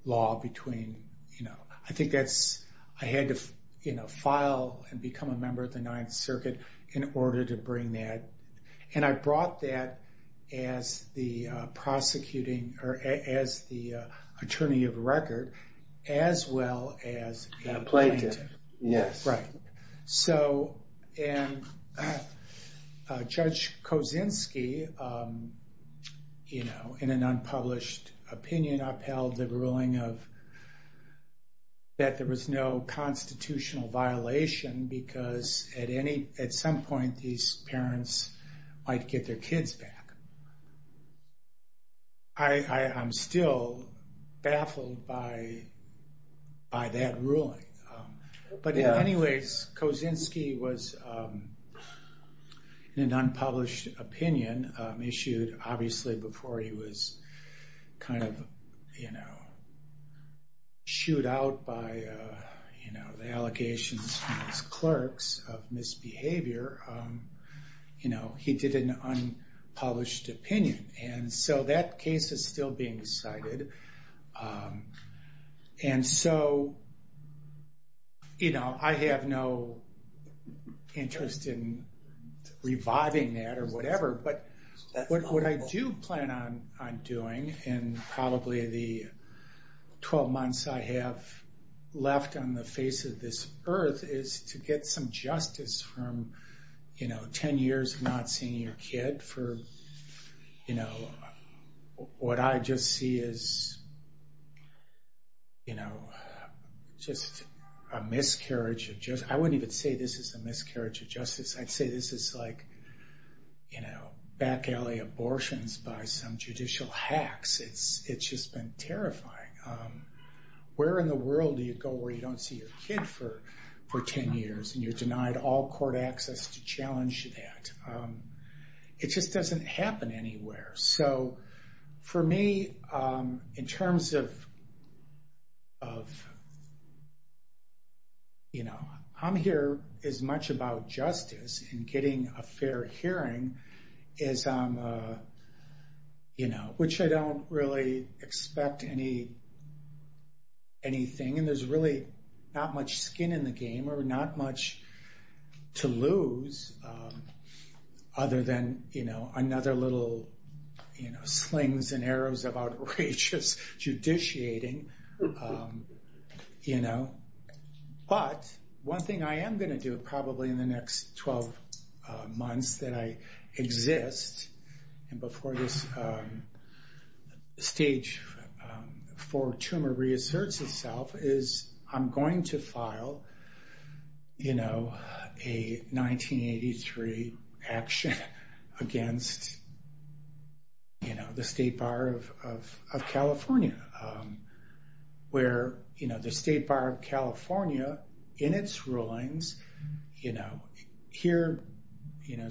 law between, you know, I think I had to file and become a member of the Ninth Circuit in order to bring that. And I brought that as the prosecuting, or as the attorney of record, as well as the plaintiff. Yes. Right. So, and Judge Kosinski, you know, in an unpublished opinion, upheld the ruling that there was no constitutional violation because at some point these parents might get their kids back. I'm still baffled by that ruling. But anyways, Kosinski was in an unpublished opinion issued, obviously, before he was kind of, you know, shooed out by, you know, the allegations from his clerks of misbehavior. You know, he did an unpublished opinion. And so that case is still being decided. And so, you know, I have no interest in reviving that or whatever. But what I do plan on doing in probably the 12 months I have left on the face of this earth is to get some justice from, you know, 10 years from not seeing your kid for, you know, what I just see as, you know, just a miscarriage of justice. I wouldn't even say this is a miscarriage of justice. I'd say this is like, you know, back in LA abortions by some judicial hacks. It's just been terrifying. Where in the world do you go where you don't see your kid for 10 years and you're denied all court access to challenge that? It just doesn't happen anywhere. So for me, in terms of, you know, I'm here as much about justice and getting a fair hearing as, you know, which I don't really expect anything. And there's really not much skin in the game or not much to lose other than, you know, another little, you know, slings and arrows of outrageous judiciating, you know. But one thing I am going to do probably in the next 12 months that I exist and before this stage four tumor reasserts itself is I'm going to file, you know, a 1983 action against, you know, the state bar of California. Where, you know, the state bar of California in its rulings, you know, here, you know,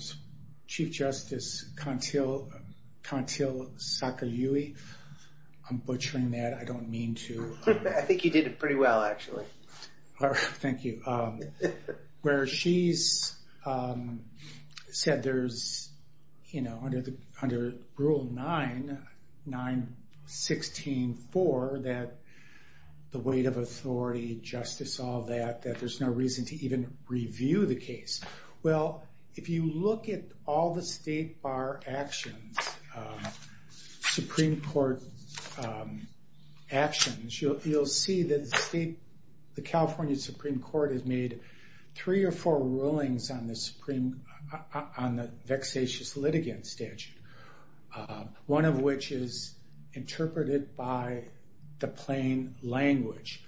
Chief Justice Conteel Sakayui, I'm butchering that. I don't mean to. I think you did it pretty well, actually. Thank you. Where she said there's, you know, under Rule 9, 9-16-4, that the weight of authority, justice, all that, that there's no reason to even review the case. Well, if you look at all the state bar actions, Supreme Court actions, you'll see that the California Supreme Court has made three or four rulings on the vexatious litigant statute, one of which is interpreted by the plain language.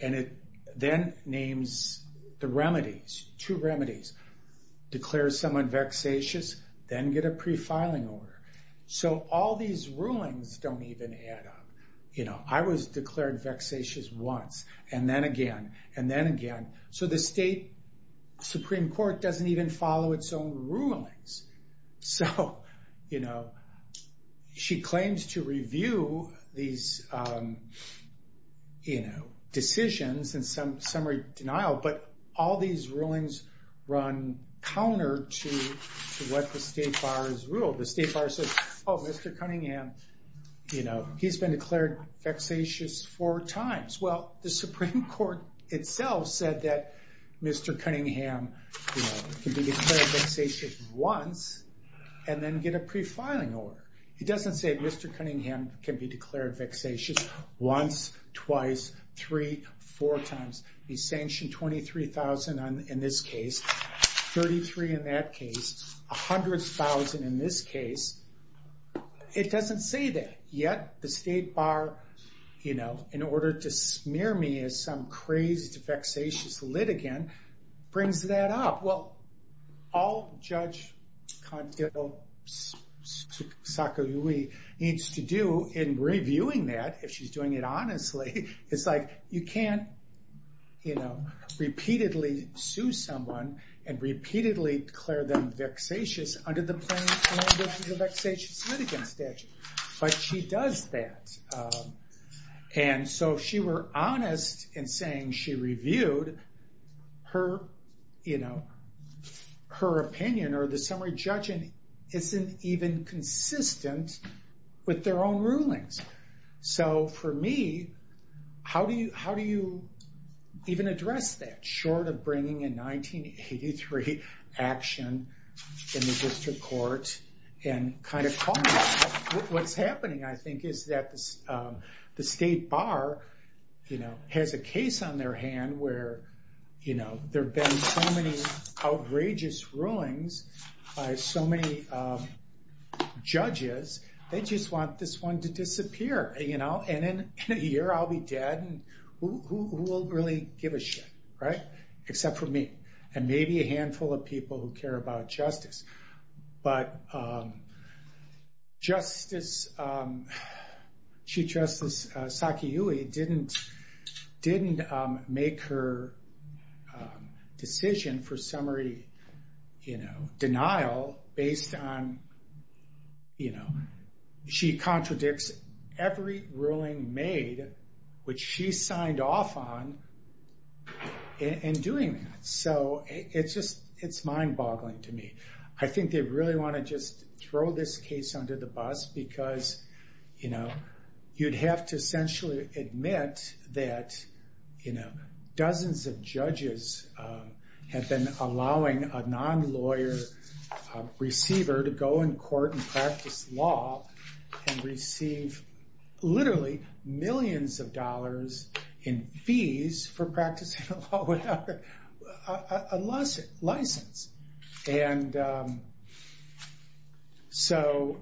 And it then names the remedies, two remedies, declare someone vexatious, then get a pre-filing order. So all these rulings don't even add up. You know, I was declared vexatious once and then again and then again. So the state Supreme Court doesn't even follow its own rulings. So, you know, she claims to review these, you know, decisions and summary denial, but all these rulings run counter to what the state bar has ruled. The state bar says, oh, Mr. Cunningham, you know, he's been declared vexatious four times. Well, the Supreme Court itself said that Mr. Cunningham can be declared vexatious once and then get a pre-filing order. It doesn't say Mr. Cunningham can be declared vexatious once, twice, three, four times. He's sanctioned $23,000 in this case, $33,000 in that case, $100,000 in this case. It doesn't say that. Yet the state bar, you know, in order to smear me as some crazy vexatious litigant, brings that up. Well, all Judge Sakaguchi needs to do in reviewing that, if she's doing it honestly, is like you can't, you know, repeatedly sue someone and repeatedly declare them vexatious. Under the Planned Parenthood vexatious litigant statute. But she does that. And so if she were honest in saying she reviewed her, you know, her opinion or the summary judgment, it isn't even consistent with their own rulings. So for me, how do you even address that short of bringing in 1983 action in the district court and kind of what's happening I think is that the state bar, you know, has a case on their hand where, you know, there have been so many outrageous rulings by so many judges, they just want this one to disappear, you know, and in a year I'll be dead. Who will really give a shit, right? Except for me and maybe a handful of people who care about justice. But Justice Sakaguchi didn't make her decision for summary, you know, denial based on, you know, she contradicts every ruling made, which she signed off on in doing that. So it's just it's mind boggling to me. I think they really want to just throw this case under the bus because, you know, you'd have to essentially admit that, you know, dozens of judges have been allowing a non-lawyer receiver to go in court and practice law and receive literally millions of dollars in fees for practicing law. A license. And so,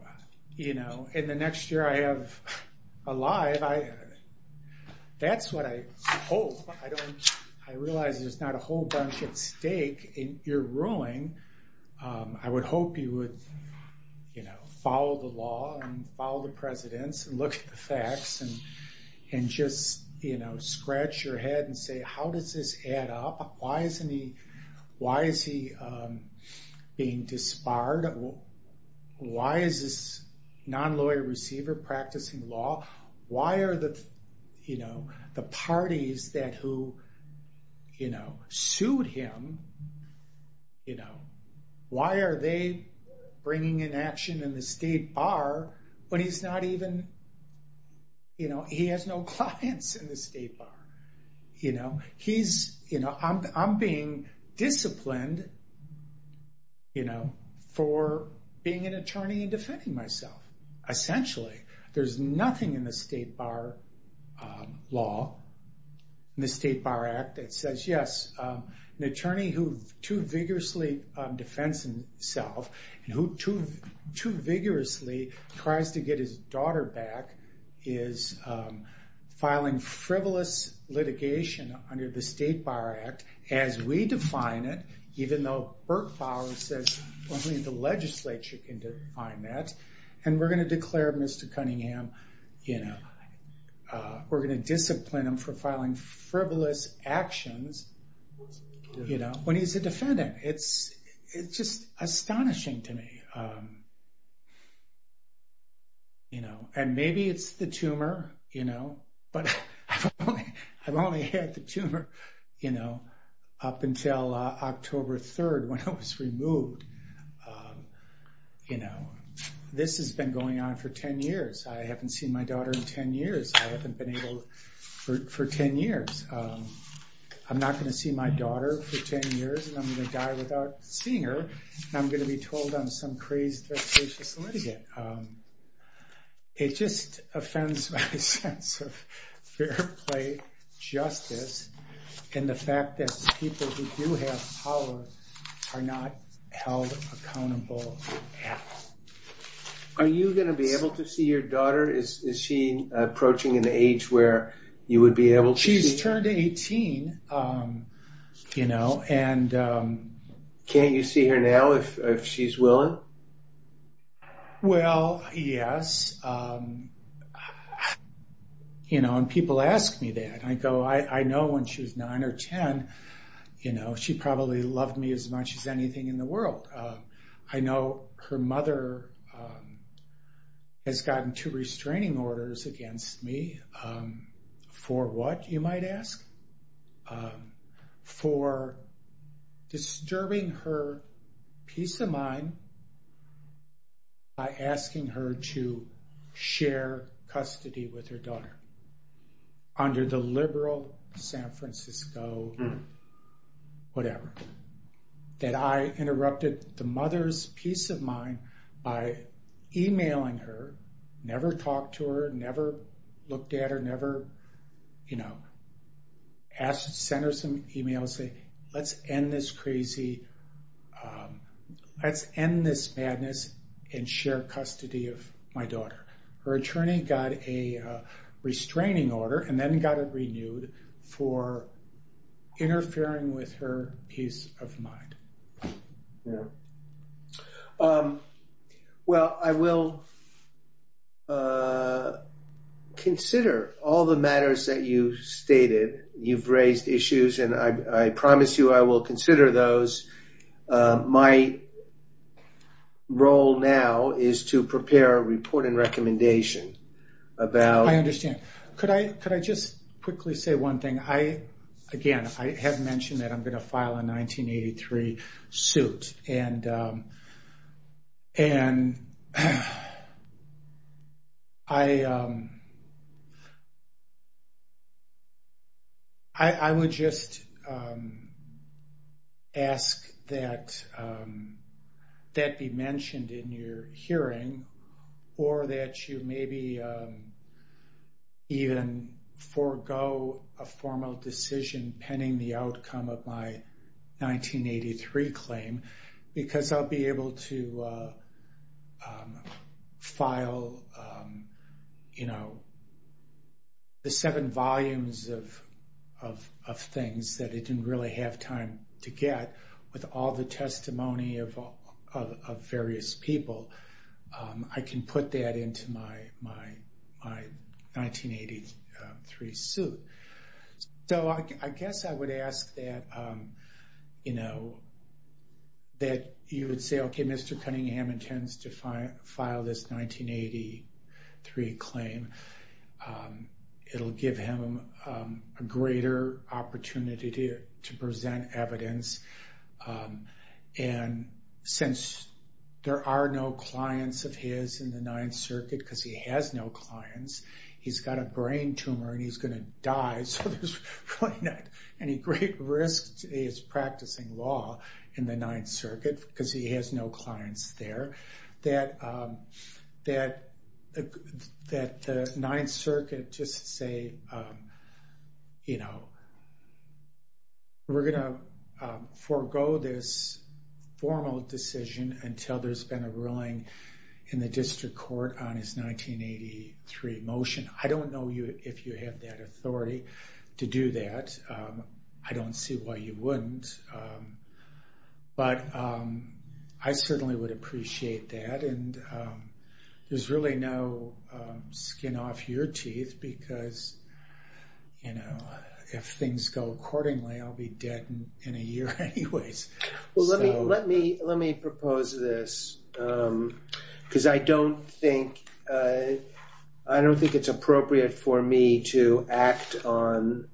you know, in the next year I have alive, that's what I hope. I realize there's not a whole bunch at stake in your ruling. I would hope you would, you know, follow the law and follow the presidents and look at the facts and just, you know, scratch your head and say, how does this add up? Why isn't he, why is he being disbarred? Why is this non-lawyer receiver practicing law? Why are the, you know, the parties that who, you know, sued him, you know, why are they bringing in action in the state bar when he's not even, you know, he has no clients in the state bar. You know, he's, you know, I'm being disciplined, you know, for being an attorney and defending myself. Essentially, there's nothing in the state bar law, in the state bar act that says, yes, an attorney who too vigorously defends himself and who too vigorously tries to get his daughter back is filing frivolous litigation under the state bar act as we define it. Even though Burt Fowler says only the legislature can define that. And we're going to declare Mr. Cunningham, you know, we're going to discipline him for filing frivolous actions, you know, when he's a defendant. It's just astonishing to me. You know, and maybe it's the tumor, you know, but I've only had the tumor, you know, up until October 3rd when I was removed. You know, this has been going on for 10 years. I haven't seen my daughter in 10 years. I haven't been able for 10 years. I'm not going to see my daughter for 10 years and I'm going to die without seeing her. And I'm going to be told I'm some crazy person for litigation. It just offends my sense of fair play, justice, and the fact that people who do have power are not held accountable. Are you going to be able to see your daughter? Is she approaching an age where you would be able to see her? She's turned 18, you know, and... Can't you see her now if she's willing? Well, yes. You know, and people ask me that. I go, I know when she's 9 or 10, you know, she probably loved me as much as anything in the world. I know her mother has gotten two restraining orders against me for what, you might ask? For disturbing her peace of mind by asking her to share custody with her daughter under the liberal San Francisco whatever. That I interrupted the mother's peace of mind by emailing her, never talked to her, never looked at her, never, you know, sent her some emails saying, let's end this crazy, let's end this madness and share custody of my daughter. Her attorney got a restraining order and then got it renewed for interfering with her peace of mind. Well, I will consider all the matters that you stated. You've raised issues, and I promise you I will consider those. My role now is to prepare a report and recommendation about... I understand. Could I just quickly say one thing? Again, I have mentioned that I'm going to file a 1983 suit. And I would just ask that that be mentioned in your hearing or that you maybe even forego a formal decision pending the outcome of my 1983 claim. Because I'll be able to file, you know, the seven volumes of things that I didn't really have time to get with all the testimony of various people. I can put that into my 1983 suit. So I guess I would ask that, you know, that you would say, okay, Mr. Cunningham intends to file this 1983 claim. It'll give him a greater opportunity to present evidence. And since there are no clients of his in the Ninth Circuit because he has no clients, he's got a brain tumor and he's going to die. So there's not any great risk to his practicing law in the Ninth Circuit because he has no clients there. That the Ninth Circuit just say, you know, we're going to forego this formal decision until there's been a ruling in the district court on his 1983 motion. I don't know if you have that authority to do that. I don't see why you wouldn't. But I certainly would appreciate that. And there's really no skin off your teeth because, you know, if things go accordingly, I'll be dead in a year anyway. Well, let me propose this because I don't think it's appropriate for me to act on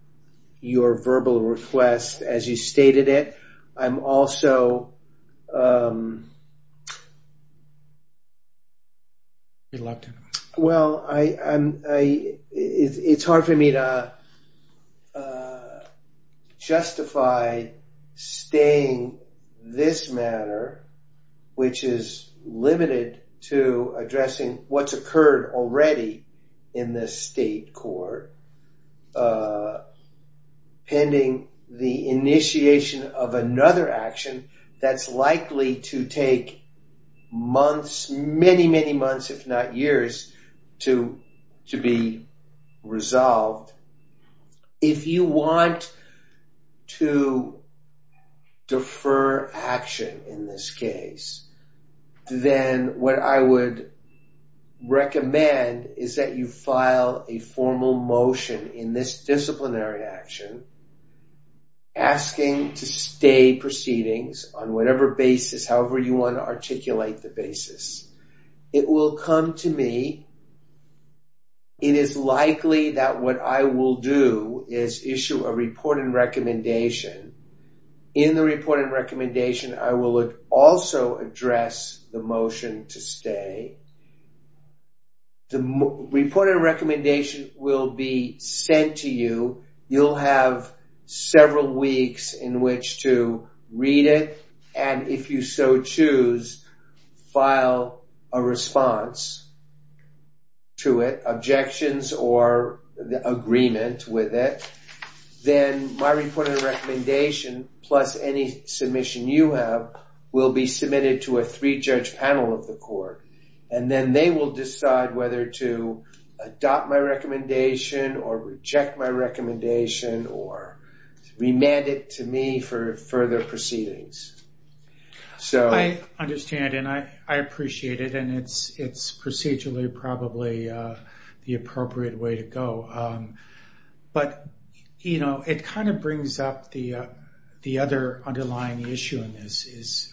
your verbal request as you stated it. Well, it's hard for me to justify staying this matter, which is limited to addressing what's occurred already in the state court. And, you know, pending the initiation of another action that's likely to take months, many, many months, if not years, to be resolved. If you want to defer action in this case, then what I would recommend is that you file a formal motion in this disciplinary action asking to stay proceedings on whatever basis, however you want to articulate the basis. It will come to me. It is likely that what I will do is issue a report and recommendation. In the report and recommendation, I will also address the motion to stay. The report and recommendation will be sent to you. You'll have several weeks in which to read it, and if you so choose, file a response to it, objections or agreement with it. Then my report and recommendation, plus any submission you have, will be submitted to a three-judge panel of the court. And then they will decide whether to adopt my recommendation or reject my recommendation or remand it to me for further proceedings. I understand, and I appreciate it, and it's procedurally probably the appropriate way to go. But, you know, it kind of brings up the other underlying issue in this.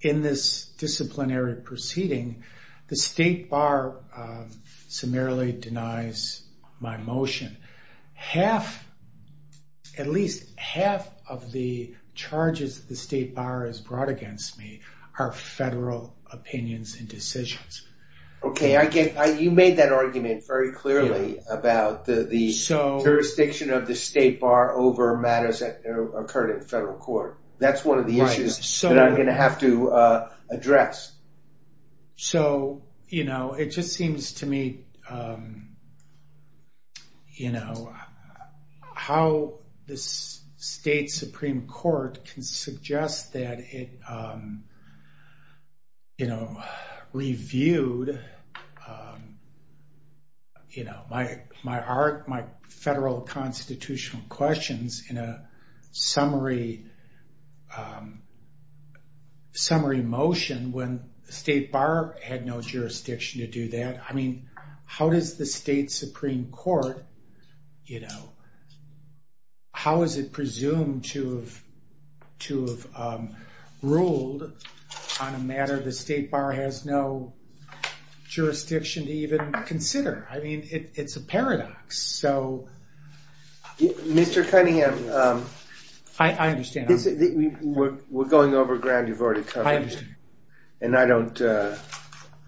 In this disciplinary proceeding, the state bar summarily denies my motion. Half, at least half of the charges the state bar has brought against me are federal opinions and decisions. Okay, you made that argument very clearly about the jurisdiction of the state bar over matters that occurred in federal court. That's one of the issues that I'm going to have to address. So, you know, it just seems to me, you know, how the state supreme court can suggest that it, you know, reviewed, you know, my art, my federal constitutional questions in a summary motion when the state bar had no jurisdiction to do that. I mean, how does the state supreme court, you know, how is it presumed to have ruled on a matter the state bar has no jurisdiction to even consider? I mean, it's a paradox. Mr. Cunningham, we're going over ground. You've already come, and I don't,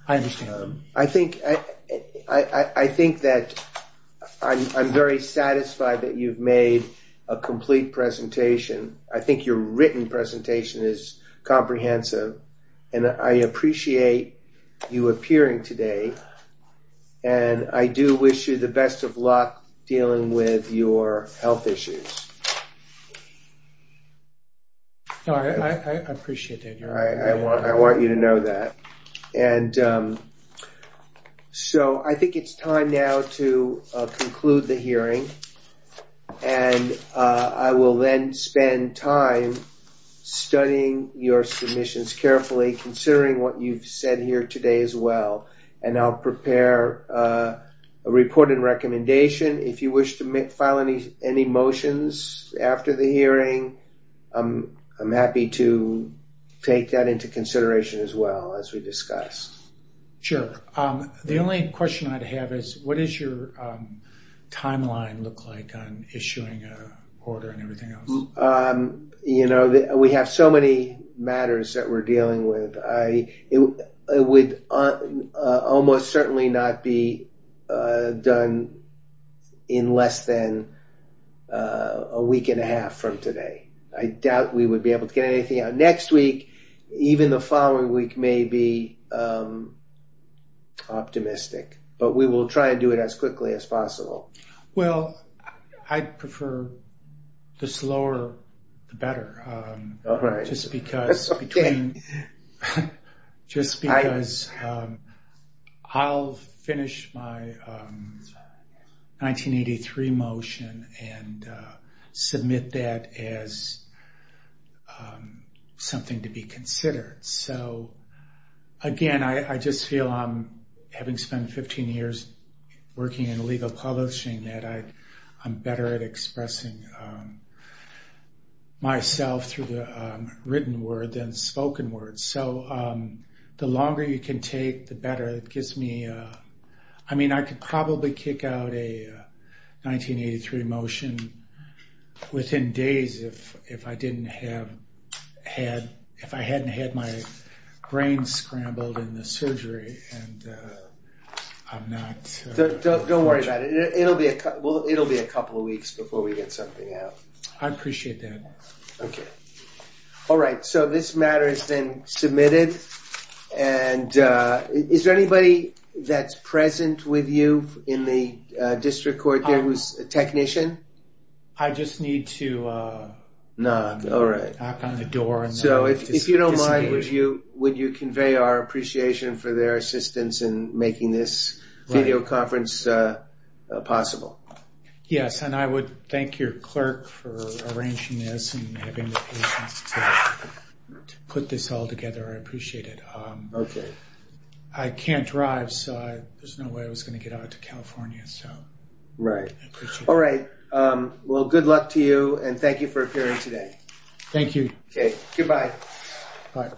I think that I'm very satisfied that you've made a complete presentation. I think your written presentation is comprehensive, and I appreciate you appearing today. And I do wish you the best of luck dealing with your health issues. All right, I appreciate that. I want you to know that. And so I think it's time now to conclude the hearing, and I will then spend time studying your submissions carefully, considering what you've said here today as well. And I'll prepare a report and recommendation. If you wish to file any motions after the hearing, I'm happy to take that into consideration as well, as we discussed. Sure. The only question I'd have is, what does your timeline look like on issuing a order and everything else? You know, we have so many matters that we're dealing with. It would almost certainly not be done in less than a week and a half from today. I doubt we would be able to get anything out next week. Even the following week may be optimistic. But we will try to do it as quickly as possible. Well, I prefer the slower, the better. All right. Just because I'll finish my 1983 motion and submit that as something to be considered. So, again, I just feel, having spent 15 years working in legal publishing, that I'm better at expressing myself through the written word than spoken word. The longer you can take, the better. I mean, I could probably kick out a 1983 motion within days if I hadn't had my brain scrambled in the surgery. Don't worry about it. It'll be a couple of weeks before we get something out. I appreciate that. Thank you. All right. So, this matter has been submitted. And is there anybody that's present with you in the district court here who's a technician? I just need to knock on the door. All right. So, if you don't mind, would you convey our appreciation for their assistance in making this video conference possible? Yes. And I would thank your clerk for arranging this and putting this all together. I appreciate it. Okay. I can't drive, so there's no way I was going to get out to California. Right. All right. Well, good luck to you, and thank you for appearing today. Thank you. Okay. Goodbye. Bye.